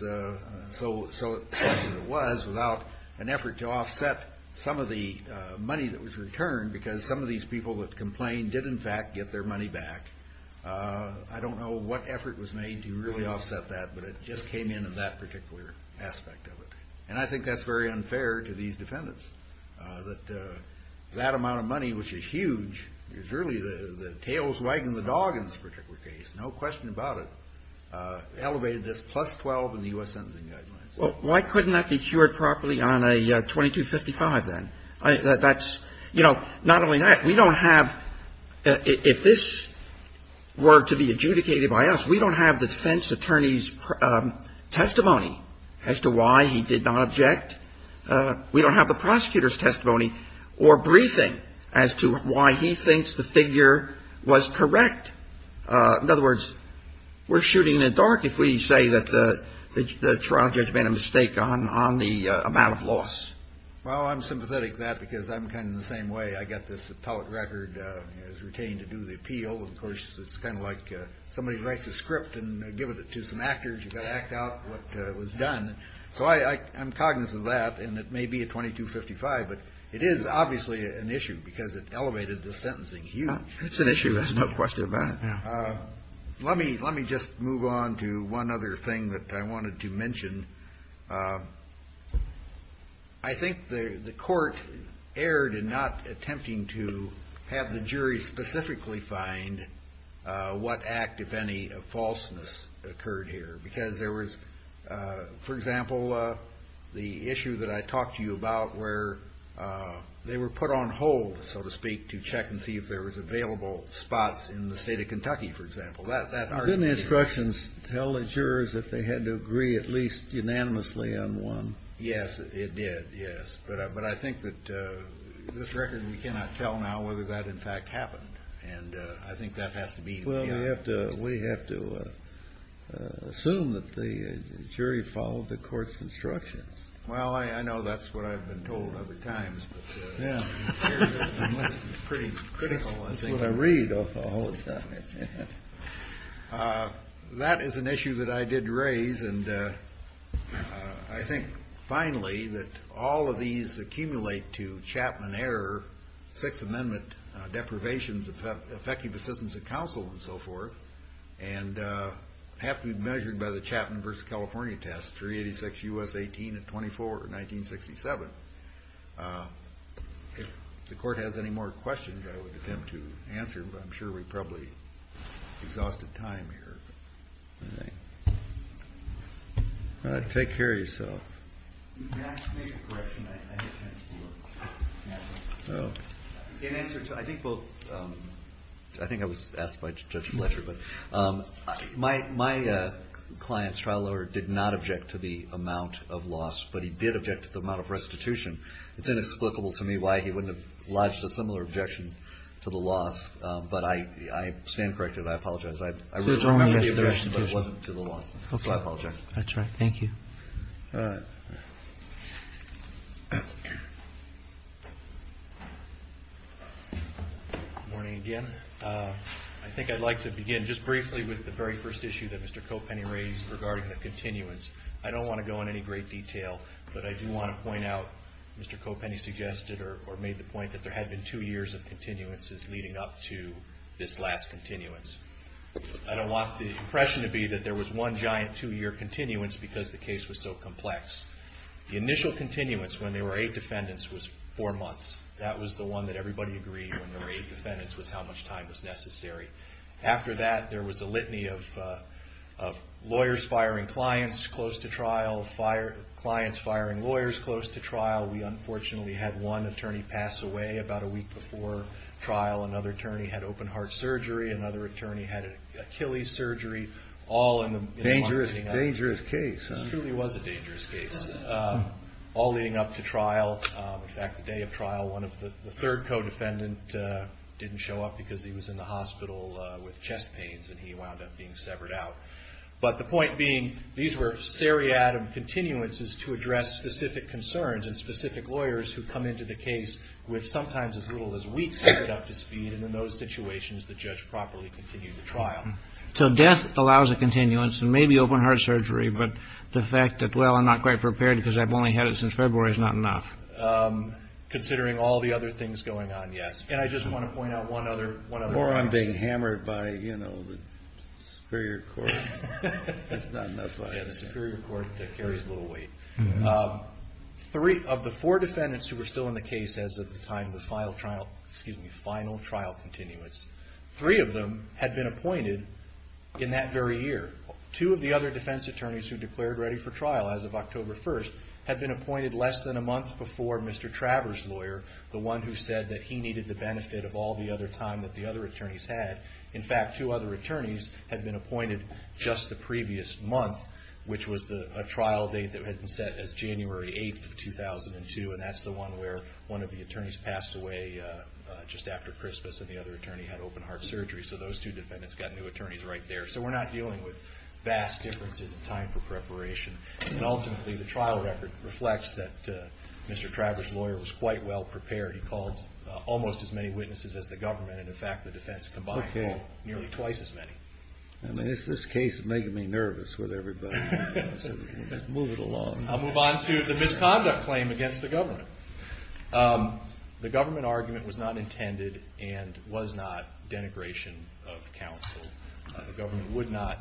so it was without an effort to offset some of the money that was returned because some of these people that complained did, in fact, get their money back. I don't know what effort was made to really offset that, but it just came in in that particular aspect of it. And I think that's very unfair to these defendants that that amount of money, which is huge, is really the tails wagging the dog in this particular case. No question about it. Elevated this plus 12 in the U.S. Sentencing Guidelines. Well, why couldn't that be cured properly on a 2255 then? That's, you know, not only that, we don't have, if this were to be adjudicated by us, we don't have the defense attorney's testimony as to why he did not object. We don't have the prosecutor's testimony or briefing as to why he thinks the figure was correct. In other words, we're shooting in the dark if we say that the trial judge made a mistake on the amount of loss. Well, I'm sympathetic to that because I'm kind of in the same way. I got this appellate record as routine to do the appeal. Of course, it's kind of like somebody writes a script and gives it to some actors to act out what was done. So, I'm cognizant of that, and it may be a 2255, but it is obviously an issue because it elevated the sentencing huge. It's an issue, there's no question about it. Let me just move on to one other thing that I wanted to mention. I think the court erred in not attempting to have the jury specifically find what act, if any, of falseness occurred here because there was no evidence of that. So, the issue that I talked to you about where they were put on hold, so to speak, to check and see if there was available spots in the state of Kentucky, for example. Didn't the instructions tell the jurors that they had to agree at least unanimously on one? Yes, it did, yes. But I think that this record, we cannot tell now whether that in fact happened. And I think that has to be the answer. Well, we have to assume that the jury followed the court's instructions. Well, I know that's what I've been told other than that. I think finally that all of these accumulate to Chapman error, Sixth Amendment deprivations of effective assistance of counsel and so forth, and have to be measured by the Chapman versus California test, 386 U.S. 18 and 24, 1967. If the court has any more questions, I would attempt to answer, but I'm sure we probably exhausted time here. Take care of yourself. In answer to, I think both, I think I was asked by Judge Fletcher, but my client's trial lawyer did not object to the amount of loss, but he did object to the amount of restitution. It's inexplicable to me why he wouldn't have lodged a similar objection to the loss, but I stand corrected. I apologize. I wasn't to the loss. I apologize. That's right. Thank you. Good morning again. I think I'd like to begin just I don't want to go into great detail, but I do want to point out that there had been two years of continuances leading up to this last continuance. I into too much detail here, but there were clients firing lawyers close to trial. We unfortunately had one attorney pass away about a week before trial. Another attorney had open heart surgery. Another attorney had Achilles surgery. All leading up to trial. In fact, the day of trial, the third co-defendant didn't show up because he was in the hospital with chest pains and wound up being severed out. But the point being, these were seriatim continuances to address specific concerns and specific lawyers who come into the case with sometimes as weak conduct in those situations. Death allows a continuance and maybe open heart surgery but the fact that I'm not quite prepared is not enough. Considering all the other things going on, yes. I just want to point out one other point. Of the four defendants who were still in the case at the time, the final trial continuance, three of them had been appointed in that very year. Two of the other defense attorneys had been appointed less than a month before Mr. Travers lawyer, the one who said he needed the benefit of all the other time the other attorneys had. In fact, two other attorneys had been appointed just the previous month which was a trial date that had been set as January 8, 2002 and that's the one where one of the attorneys passed away just after Christmas and the other attorney had open heart surgery. So we're not dealing with vast differences in time for the don't think we're dealing with nearly twice as many. I'll move on to the misconduct claim against the government. The government argument was not intended and was not denigration of counsel. The government would not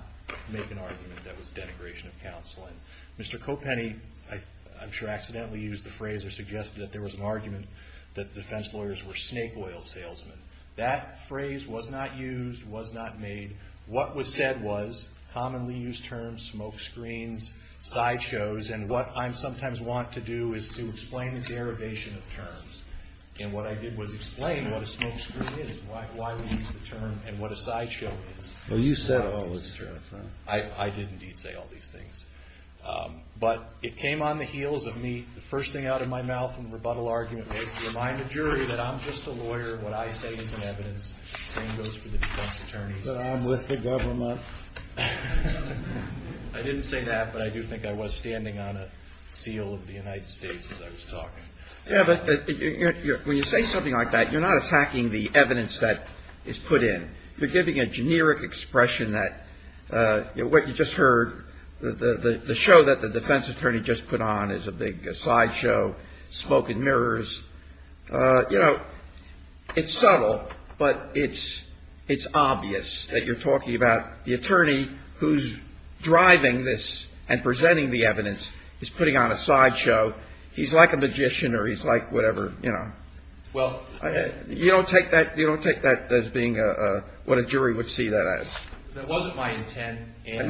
make an argument that was denigration of counseling. Mr. Copenny, I'm sure accidentally used the phrase, I suggested that there was an argument that defense lawyers were snake oil salesmen. That phrase was not used, was not made. What was said was commonly used terms, smoke screens, side shows, and what I sometimes want to do is explain the derivation of terms. And what I did was explain what a smoke screen is and what a side show is. I didn't detail these things. But it came on the heels of me, the first thing out of my mouth in the rebuttal argument was to remind the defense that I was standing on a seal of the United States as I was talking. When you say something like that, you're not attacking the evidence that is put in. You're giving a generic expression that what you just heard, the show that the defense attorney just put on is a big talking about a smoke screen, a side show, smoke and mirrors. It's subtle, but it's obvious that you're talking about the attorney who is driving this and presenting the evidence is putting on a side show. He's like a magician or whatever. You don't take that as being what a jury would see that as. It wasn't my intent. It's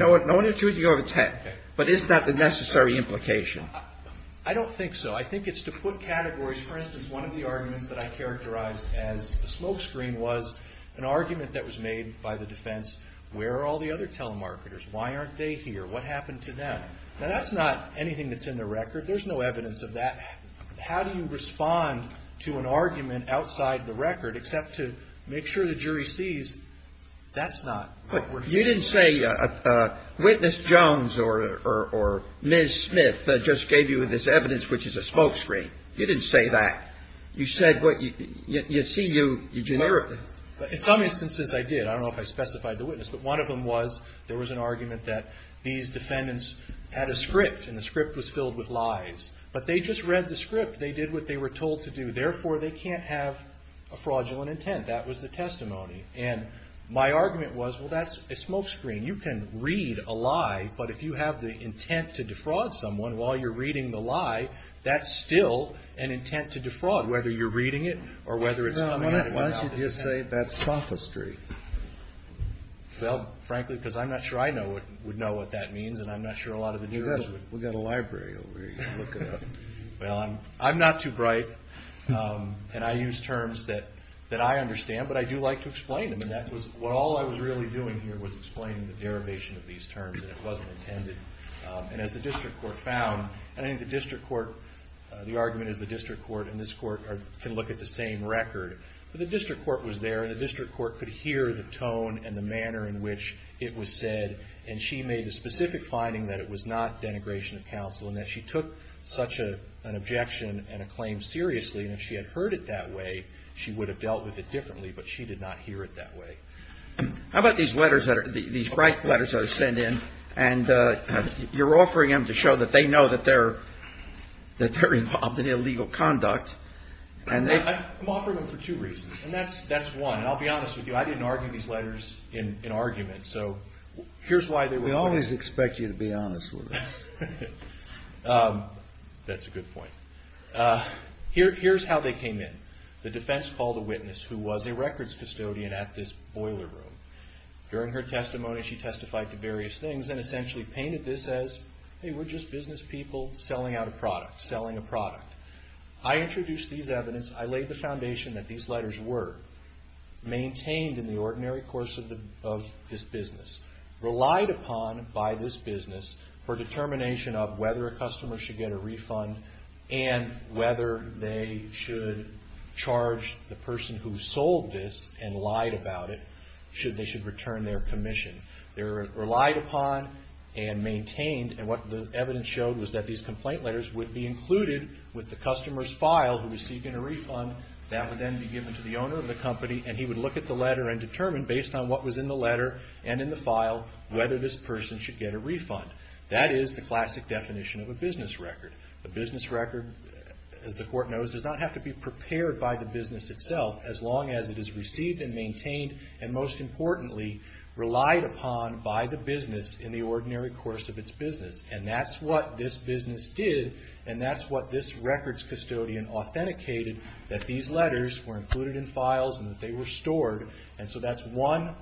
not the necessary implication. I don't think so. I think it's to put categories. For instance, one of the arguments I characterized as a smoke screen was an argument made by the defense, where are all the other telemarketers? That's not anything in the record. There's no evidence of that. How do you respond to an argument outside the record except to make sure the jury sees that's not working? You didn't say witness Jones or Ms. Smith just gave you this evidence which is a smoke screen. You didn't say that. You said you see you generically. In some instances I did. I don't know if I specified the witness. But one of them was there was an argument that these defendants had a script and the script was filled with lies. But they just read the script. They did what they were told to do. Therefore, they can't have a fraudulent intent. That was the testimony. My argument was that's a smoke screen. You can read a smoke screen. I'm not sure I would know what that means. We have a library over here. I'm not too bright. I use terms that I understand. But I do like to explain them. All I was doing was explaining the derivation of these terms. The argument is the district court and this court can look at the same case. look at the tone and the manner in which it was said. And she made a specific finding that it was not denigration of counsel and that she took such an objection and a claim seriously. If she had heard it that way, she would have dealt with it differently. But she did not hear it that way. How about these letters that are sent in and you're offering them to show that they know that they're involved in illegal conduct. I'm offering them for two reasons. I didn't argue these letters in argument. We always expect you to be honest with us. That's a good point. Here's how they came in. The defense called a witness who was a records custodian. She testified to various things and essentially painted this as business people selling out a product. I laid the foundation that these letters were maintained in the ordinary course of this business, relied upon by this business for determination of whether a customer should get a refund and whether they should charge the person who sold this and lied about it, they should return their commission. They're relied upon and maintained and what the evidence showed was that these complaint letters would be included with the customer's file who should get a refund. That is the classic definition of a business record. The business record does not have to be prepared by the business itself as long as it is received and maintained and most importantly relied upon by the business in the ordinary course of its business. That's what this business did and that's what this records custodian authenticated that these letters were included in files and that they were stored and so that's one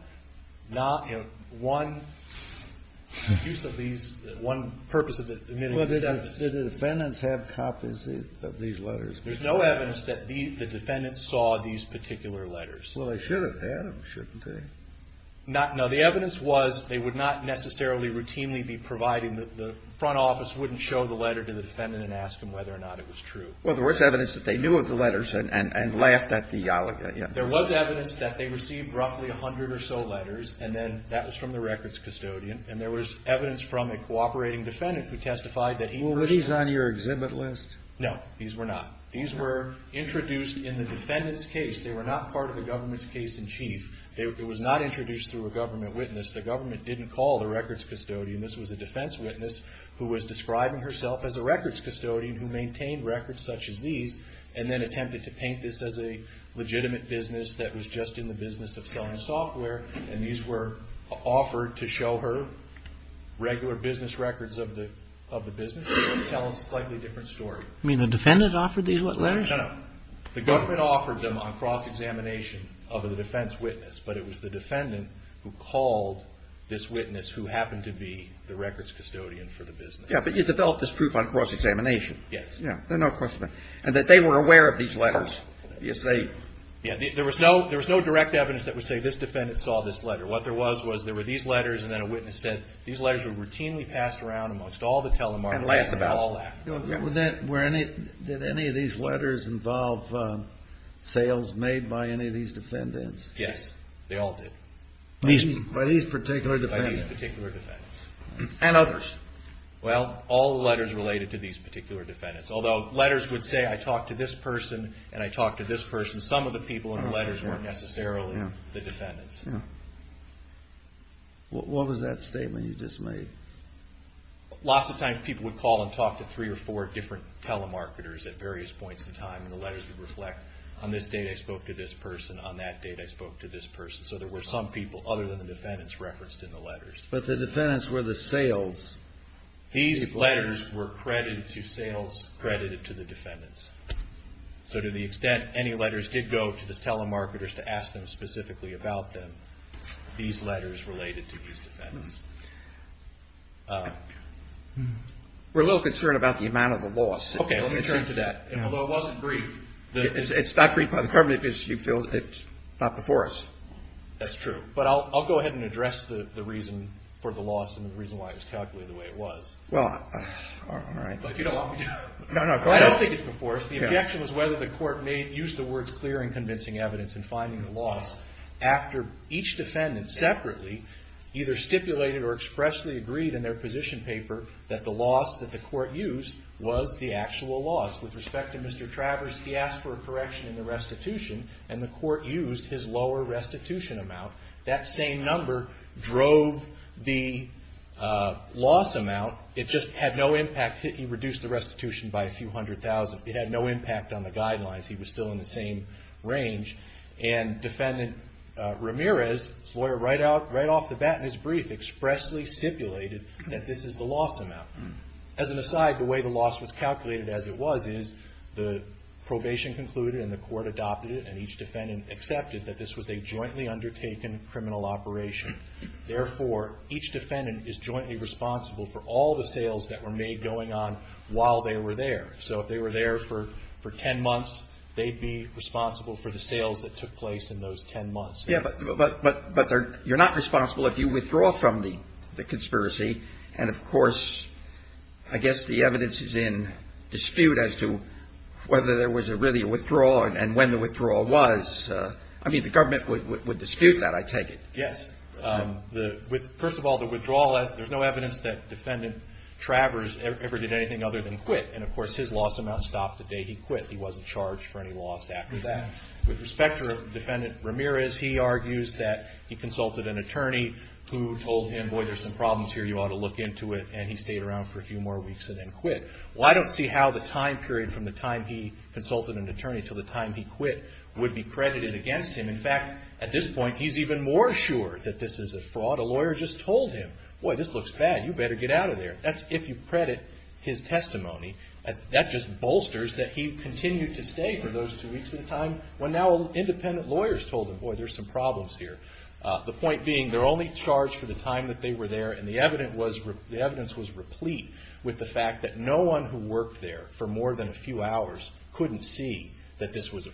use of these, one purpose of the evidence. Did the defendants have copies of these letters? There's no evidence that the defendants saw these particular letters. Well, they should have had them shouldn't they? No, the evidence was they would not necessarily routinely be providing the front office wouldn't show the letter to the defendant and ask them whether or not it was true. Well, there was evidence that they knew of the letters and laughed at theology. There was evidence that they received roughly 100 or so letters and that was from the records custodian. This was a defense witness who was describing herself as a records custodian who maintained records such as these and then attempted to paint this as a legitimate business that was just in the business of selling software and these were offered to show her regular business records. The government offered them on cross-examination of a defense witness but it was the defendant who called this witness who happened to be the records custodian for the business. But you developed this proof on cross-examination and that they were aware of these letters. There was no direct evidence that would say that the defendant was actually a record custodian. The government offered this to the defense witness who was a record custodian for the business of selling software and these were the records that were recorded by the government. Lots of times people would call and talk to three or four different telemarketers at various points in time and the letters would reflect on this day I spoke to this person and on that day I spoke to this person. So there were some people other than the defendants referenced in the letters. But the defendants were the sales. These letters were credited to sales credited to the defendants. So to the extent any letters did go to the telemarketers to ask them specifically about them, these letters related to these defendants. We're a little concerned about the amount of money that on these letters. The objection was whether the court used the words clear and convincing evidence and finding the loss after each defendant separately either stipulated or expressly agreed in their position paper that the loss that the court used was the actual loss. With respect to Mr. Travers, he asked for a correction and the court used his lower restitution amount. That same number drove the loss amount. It just had no impact. It had no impact on the guidelines. He was still in the same range. And defendant Ramirez expressly stipulated that this is the loss amount. As an aside, the way the loss was calculated as it was, the probation concluded and the court adopted it and each defendant accepted that this was a jointly undertaken criminal operation. Therefore, each defendant is jointly responsible for all the sales that were made going on while they were there. If they were there for 10 months, they would be responsible for the sales that took place in those 10 months. You are not responsible if you withdraw from the conspiracy. I guess the evidence is that there is no evidence that defendant Travers ever did anything other than quit. With respect to defendant Ramirez, he argued that he consulted an attorney who told him there are some problems and he stayed around for a few more weeks and then quit. I don't see how the time period would be credited against him. In fact, at this point, he's even more sure that this is a fraud. A lawyer just told him, this looks bad, you better get out of there. If you credit his testimony, that just bolsters that he continued to stay for those two weeks and now independent lawyers told him, boy, there are some problems here. The evidence was replete with the fact that no one who worked there for more than a few hours was there. The explanation of it is, with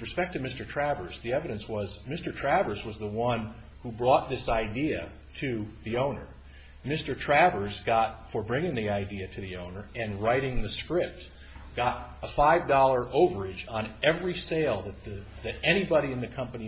respect to Mr. Travers, the evidence was Mr. Travers was the one who brought this idea to the owner. Mr. Travers, for bringing the idea to the owner and writing the script, got a $5 overage on every sale that he was able to do. He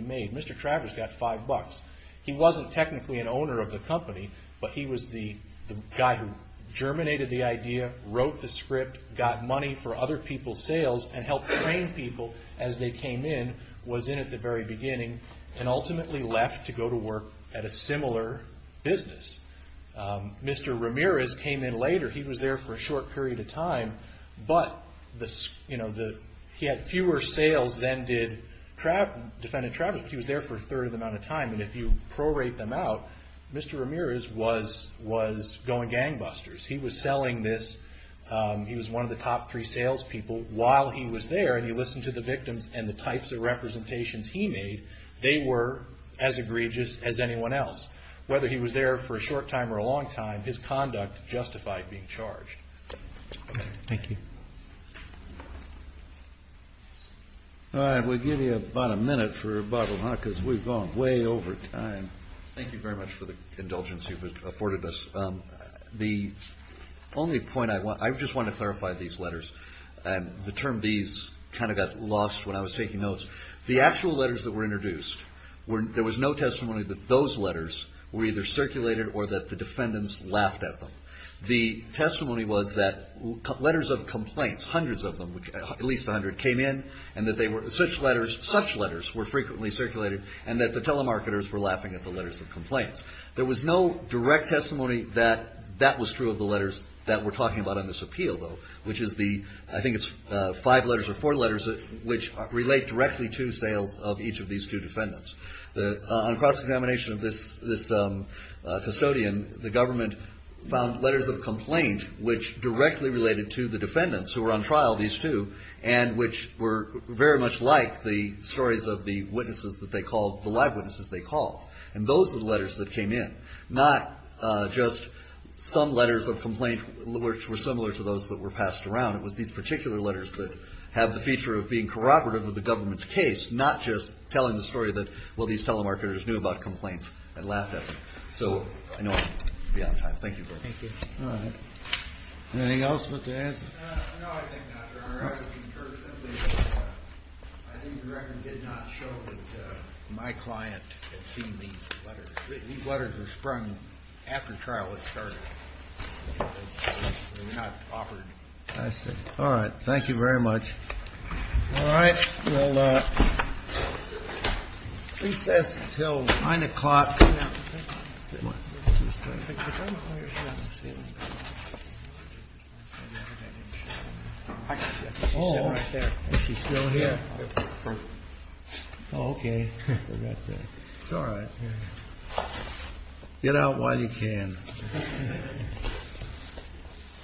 was in the very beginning and ultimately left to go to work at a similar business. Mr. Ramirez came in later, he was there for a short period of time, but he had fewer sales than did Travers. He was there for a short time, but while he was there and he listened to the victims and the types of representations he made, they were as egregious as anyone else. Whether he was there for a short time or a long time, his conduct justified being charged. Thank you. All right. We'll give you about a minute for a bottle because we've gone way over time. Thank you very much for the indulgence you've afforded us. I just want to clarify these letters. The actual letters that were introduced, there was no testimony that those letters were either circulated or that the defendants laughed at them. The testimony was that letters of complaints, hundreds of them, at least a hundred, came in and that such letters were frequently circulated and that the telemarketers were laughing at the letters of complaints. There was no direct testimony that that was true of the letters that we're talking about in this appeal, though, which is the five letters or four letters which relate directly to each of these two defendants. On cross-examination of this custodian, the government found letters of complaint which directly related to the defendants who were on trial, these two, and which were very much like the stories of the witnesses that they called, the live witnesses they called, and those were the letters that came in, not just some letters of complaint which were similar to those that were passed around. It was these particular letters that have the feature of being corroborative of the government's case, not just some letters of complaint corroborative of the case. I'm not sure that my client has seen these letters. These letters are sprung after trial with charges. They're not offered. All right. Thank you very much. All right. We'll recess until 9 o'clock. Is she still here? Okay. It's all right. Get out while you can.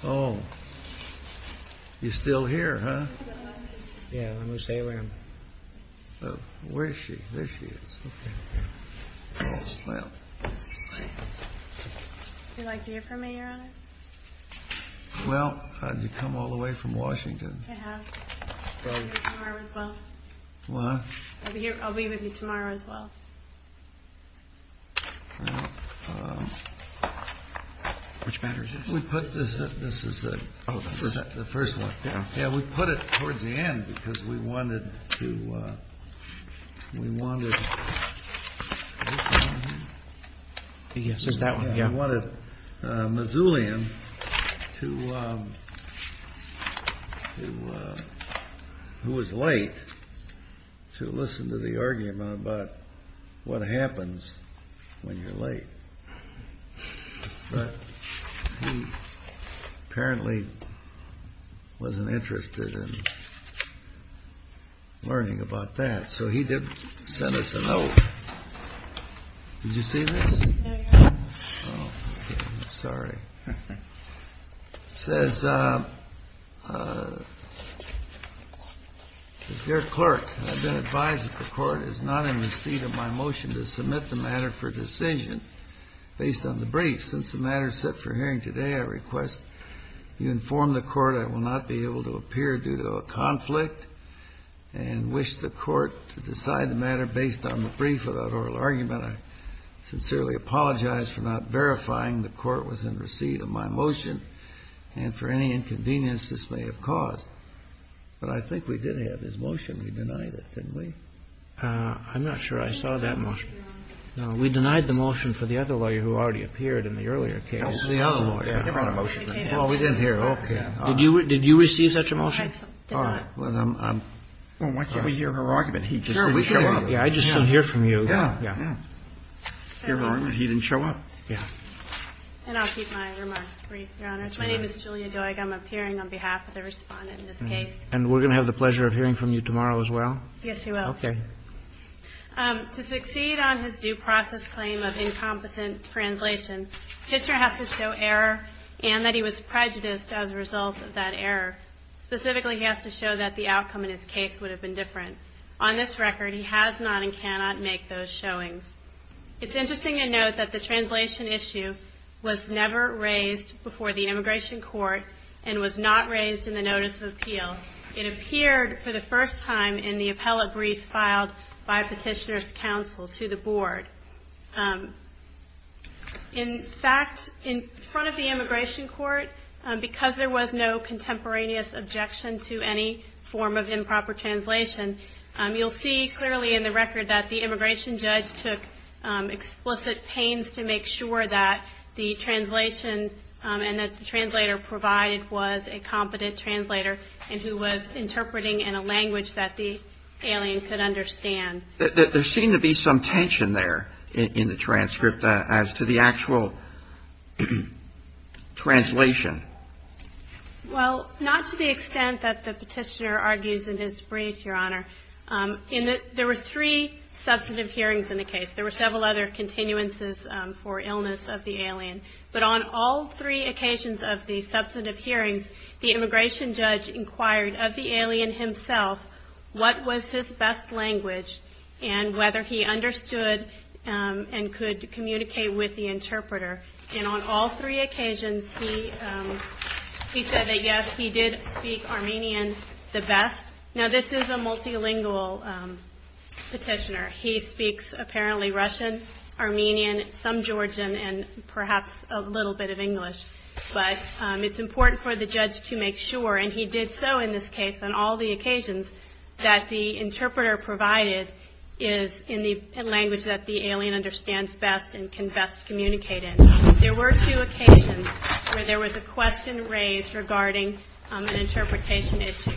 Oh. You're still here, huh? Yeah. Where is she? There she is. Well. Would you like to hear from me, Your Honor? Well, how did you come all the way from Washington? I have. I'm from Harvard. Well, I'll be with you tomorrow as well. Which letter is this? This is the first one. Yeah. We put it wanted Missoulian to, who was late to come to the hearing. I don't know who it was. It was Missoulian to listen to the argument about what happens when you're late. But he apparently wasn't learning about that. So he did send us a note. Did you see this? No, Your Honor. Oh, okay. Sorry. It says, uh, is there a motion to decide the matter for decision based on the brief? Since the matter is set for hearing today, I request you inform the court I will not be able to appear due to a conflict and wish the court to decide the matter based on the receive such a motion? We denied it, didn't we? I'm not sure I saw that motion. We denied the motion for the other lawyer who already appeared in the earlier case. Oh, we didn't hear it. Did you receive such a motion? I just didn't hear it. I'll keep my remarks brief. My name is Julia, I'm appearing on behalf of the respondent. We're going to have the pleasure of hearing from you tomorrow as well. To succeed on his due process claim of incompetent translation, the judge has to show error and that he was prejudiced as a result of that translation. It's interesting to note that the translation issue was never raised before the immigration court and was not raised in the notice of appeal. It appeared for the first time in the appellate brief filed by petitioner's counsel to the board. In fact, in front of the immigration court, because there was no contemporaneous objection to any form of improper translation, you'll see clearly in the record that the immigration judge took explicit pains to make sure that the translation and that the translator provided was a competent translator and who was interpreting in a language that the alien could understand. There seemed to be some tension there in the transcript as opposed to the actual translation. Well, not to the extent that the petitioner argues in this brief, Your Honor. There were three substantive hearings in the case. There were several other continuances for illness of the alien. But on all three occasions of the substantive hearings, the immigration judge inquired of the alien himself what was his best language and whether he understood and could communicate with the interpreter. And on all three occasions he said that, yes, he did speak Armenian the best. Now, this is a multilingual petitioner. He speaks apparently Russian, Armenian, some Georgian and perhaps a little bit of English. But it's important for the judge to make sure, and he did so in this case, that the interpreter provided is in the language that the alien understands best and can best communicate in. There were two occasions where there was a question raised regarding an interpretation issue.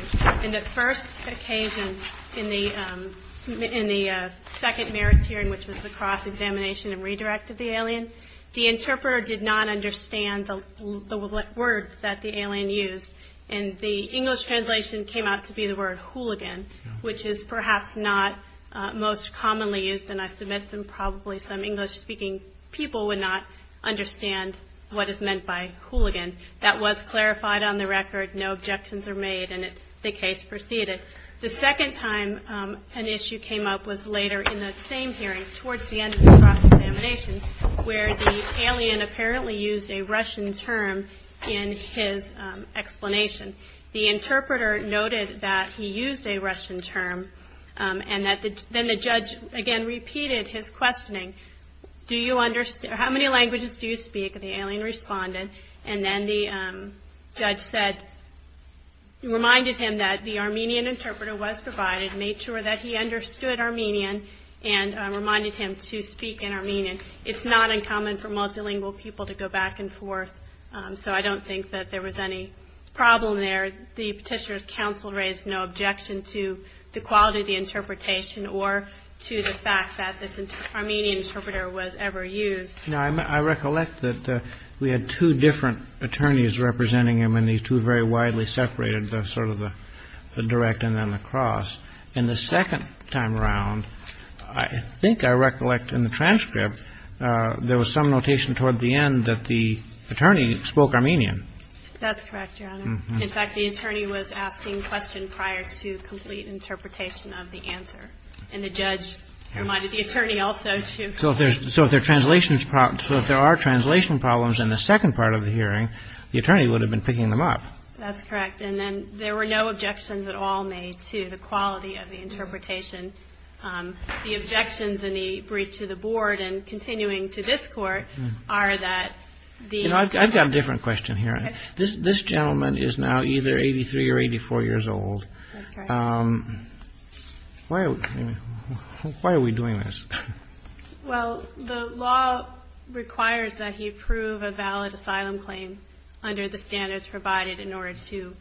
In the first occasion in the second merit hearing, which was the cross examination and redirect of the alien, the interpretation of the word hooligan, which is perhaps not most commonly used in submission. Probably some English-speaking people would not understand what is meant by hooligan. That was clarified on the record. No objections were made, and the case proceeded. The second time an issue came up was later in the same hearing, where the alien apparently used a Russian term in his explanation. The interpreter noted that he used a Russian term, and then the judge again repeated his questioning. How many languages do you speak? The alien responded, and then the judge reminded him that the Armenian interpreter was Armenian, and reminded him to speak in Armenian. It is not uncommon for multilingual people to go back and forth, so I don't think there was any problem there. The petitioner's counsel raised no objection to the quality of the interpretation or to the fact that this Armenian interpreter was ever used. I recollect that we very widely separated the direct and the cross. In the second time around, I think I recollect in the transcript there was some notation toward the end that the attorney spoke Armenian. In fact, the attorney was asking questions prior to the hearing. That's correct. There were no objections at all made to the quality of the interpretation. The objections in the brief to the board and continuing to this court are that the I have a different question here. This gentleman is now either 83 or 84 years old. Why are we doing this? Well, the law requires that he approve a valid asylum claim under the standards provided in order to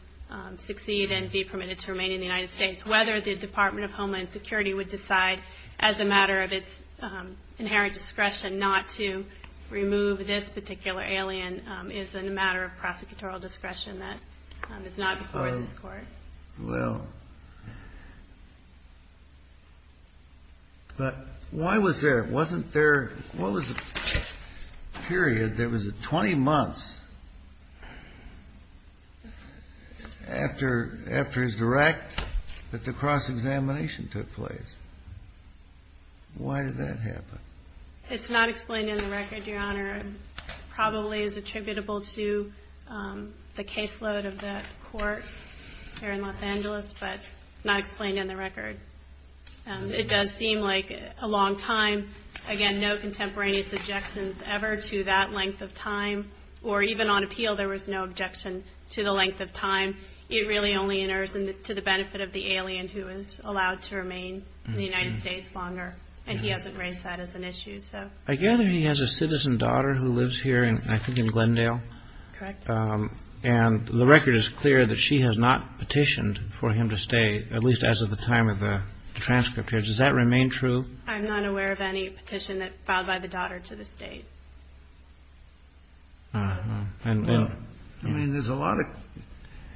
succeed and be permitted to remain in the United States. Whether the Department of Homeland Security would decide as a matter of its inherent discretion not to remove this particular alien is a matter of discretion. I don't know. But, why was there, wasn't there, what was the period, there was a 20 months after his direct that the cross-examination took place. Why did that happen? It's not explained in the record, your Honor. Probably attributable to the caseload of that court here in Los Angeles, but not explained in the record. It does seem like a long time. Again, no contemporary objections ever to that length of time, or even on appeal there was no objection to the length of time. It really only enters into the benefit of the alien who is allowed to remain in the state. I guess he has a citizen daughter who lives here in Glendale, and the record is clear that she has not petitioned for him to stay, at least as of the time of the transcript. Does that remain true? I'm not aware of any petition filed by the daughter to the state.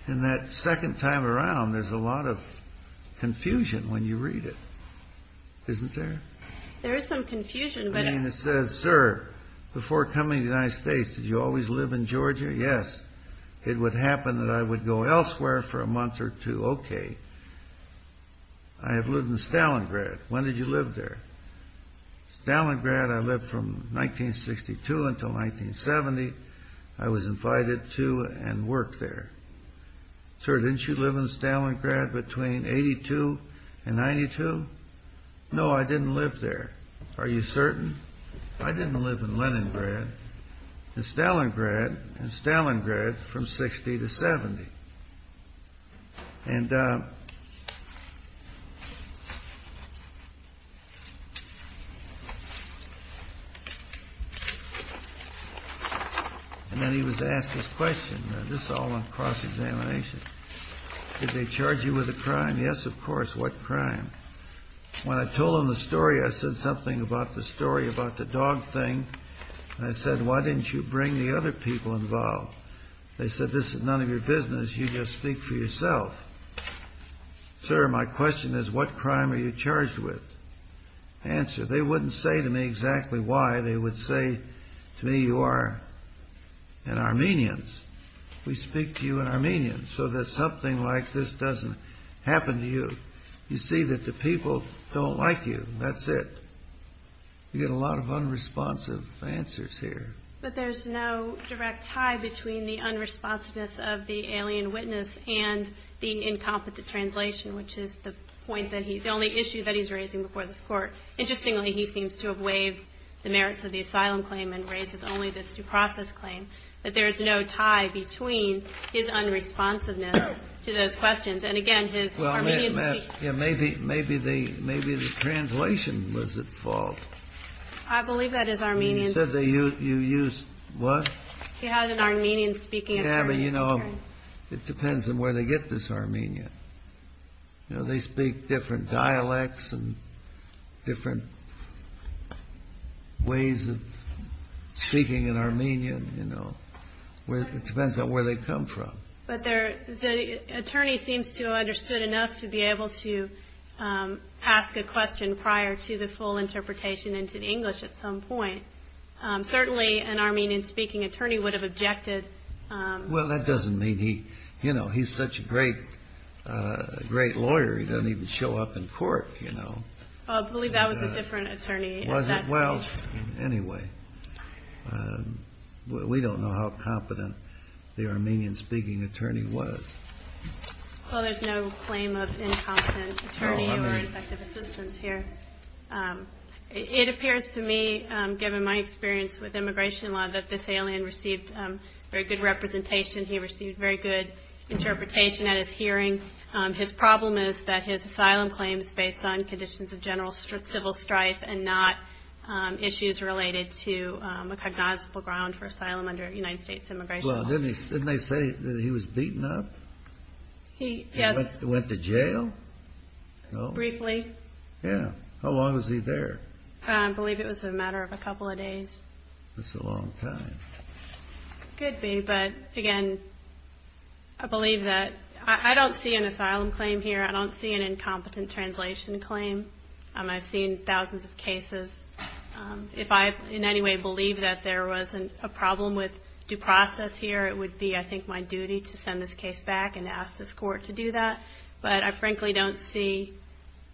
In that second time around, there's a little confusion. It says, Sir, before coming to the United States, did you always live in Georgia? Yes. It would happen that I would go elsewhere for a month or two. Okay. I have lived in Stalingrad. When did you live there? Stalingrad, I lived from 1962 until 1970. I was invited to and worked there. Sir, didn't you live in Stalingrad between 82 and 92? No, I didn't live there. Are you certain? I didn't live in Leningrad, but Stalingrad and Stalingrad from 60 to 70. And then he was asked this question, this is all on cross examination. Did they charge you with a crime? Yes, of course, what crime? When I told him the story, I said something about the story about the dog thing, and I said, why didn't you bring the other people involved? They said, this is none of your business, you just speak for yourself. Sir, my question is, what crime are you charged with? Answer, they wouldn't say to me exactly why, they would say to me, you are an Armenian. We speak to you in Armenian, so that something like this doesn't happen to you. You see that the people don't like you, and that's it. You get a lot of unresponsive answers here. But there's no direct tie between the unresponsiveness alien witness and the incompetent translation, which is the point that he's the only issue that he's raising before the court. Interestingly, he seems to have waived the merits of the asylum claim and raises only the due process claim, but there's no tie between his unresponsiveness to those questions. And again, his Armenian speech. Maybe the translation was at fault. I believe that is Armenian. You said you used what? He has an Armenian speaking attorney. It depends on where they get this Armenian. They speak different dialects and different ways of speaking in Armenian. It depends on where they come from. But the attorney seems to have understood enough to be able to ask a question prior to the full interpretation into English at some point. Certainly, an Armenian speaking attorney would have objected. That doesn't mean he's such a great lawyer. He doesn't even show up in court. I believe that was a different attorney. Anyway, we don't know how competent the Armenian speaking attorney was. There's no claim of incompetent attorney. It appears to me, given my experience with immigration law, that this alien received very good representation. He received very good interpretation at his hearing. His problem is that his asylum claims based on conditions of general civil strife and not issues related to a cognizable ground for asylum under United States immigration law. Didn't they say he was beaten up? Went to jail? Briefly. How long was he there? I believe it was a matter of a couple of days. That's a long time. It could be, but again, I believe that I don't see an asylum claim here. I don't see an incompetent translation claim. I've seen thousands of cases. If I in any way believe that there was a problem with due process here, it would be my duty to send this case back and ask this court to do that. I frankly don't see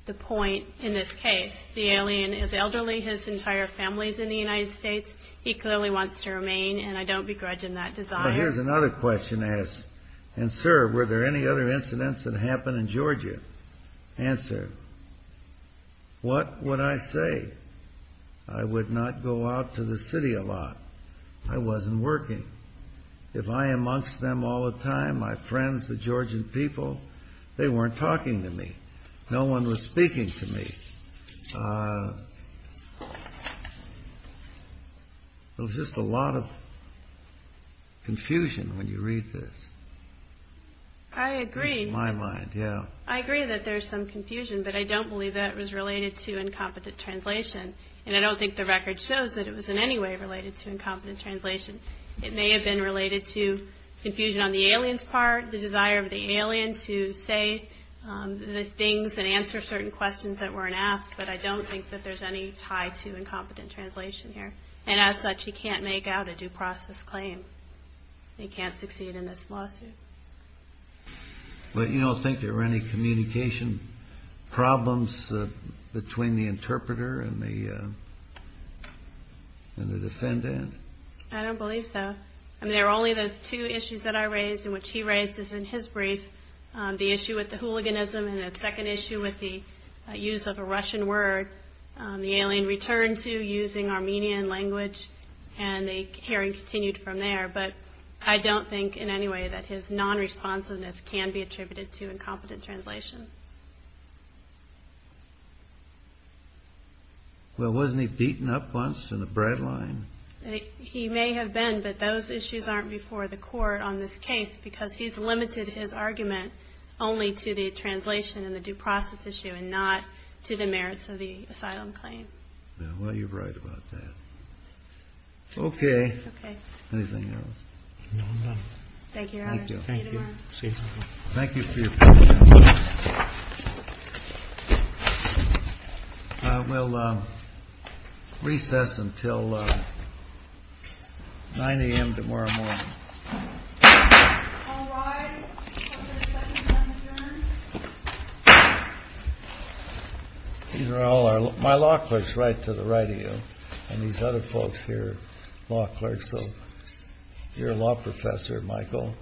the point in this case. The alien is elderly. His entire family is in the United States. He clearly wants to get out of States. What can I say? I would not go out to the city a lot. I wasn't working. If I am amongst them all the time, my friends, the Georgian people, they weren't talking to me. No one was speaking to me. There's just a lot of confusion when you read this. I agree. I agree that there's some confusion, but I don't believe that it was related to incompetent translation. I don't think the record shows that it was in any way related to incompetent translation. It may have been related to confusion on the alien's part, the desire of the alien to say the things and answer certain questions that weren't asked, but I don't think that there's any tie to incompetent translation here. And as such, he can't make out a due process claim. He can't succeed in this lawsuit. But you don't think there were any communication problems between the interpreter and the defendant? I don't believe so. There are only those two issues that I can think of. The first issue with the hooliganism and the second issue with the use of a Russian word the alien returned to using Armenian language and the hearing continued from there. But I don't think in any way that his nonresponsiveness can be attributed to incompetent translation. Well, wasn't he able to make his argument only to the translation and the due process issue and not to the merits of the asylum claim? Well, you're right about that. Okay. Anything else? No. Thank you, Your Honor. Thank you. Thank you for your patience. We'll recess until 9 a.m. tomorrow morning. All right. Thank you. These are all my law clerks right to the right of you. law professor, Michael. Thank you. Thank you. Thank you. Thank you. Thank you. Thank you. Thank you. Thank you. Thank you. Thank you. Thank you. Thank you.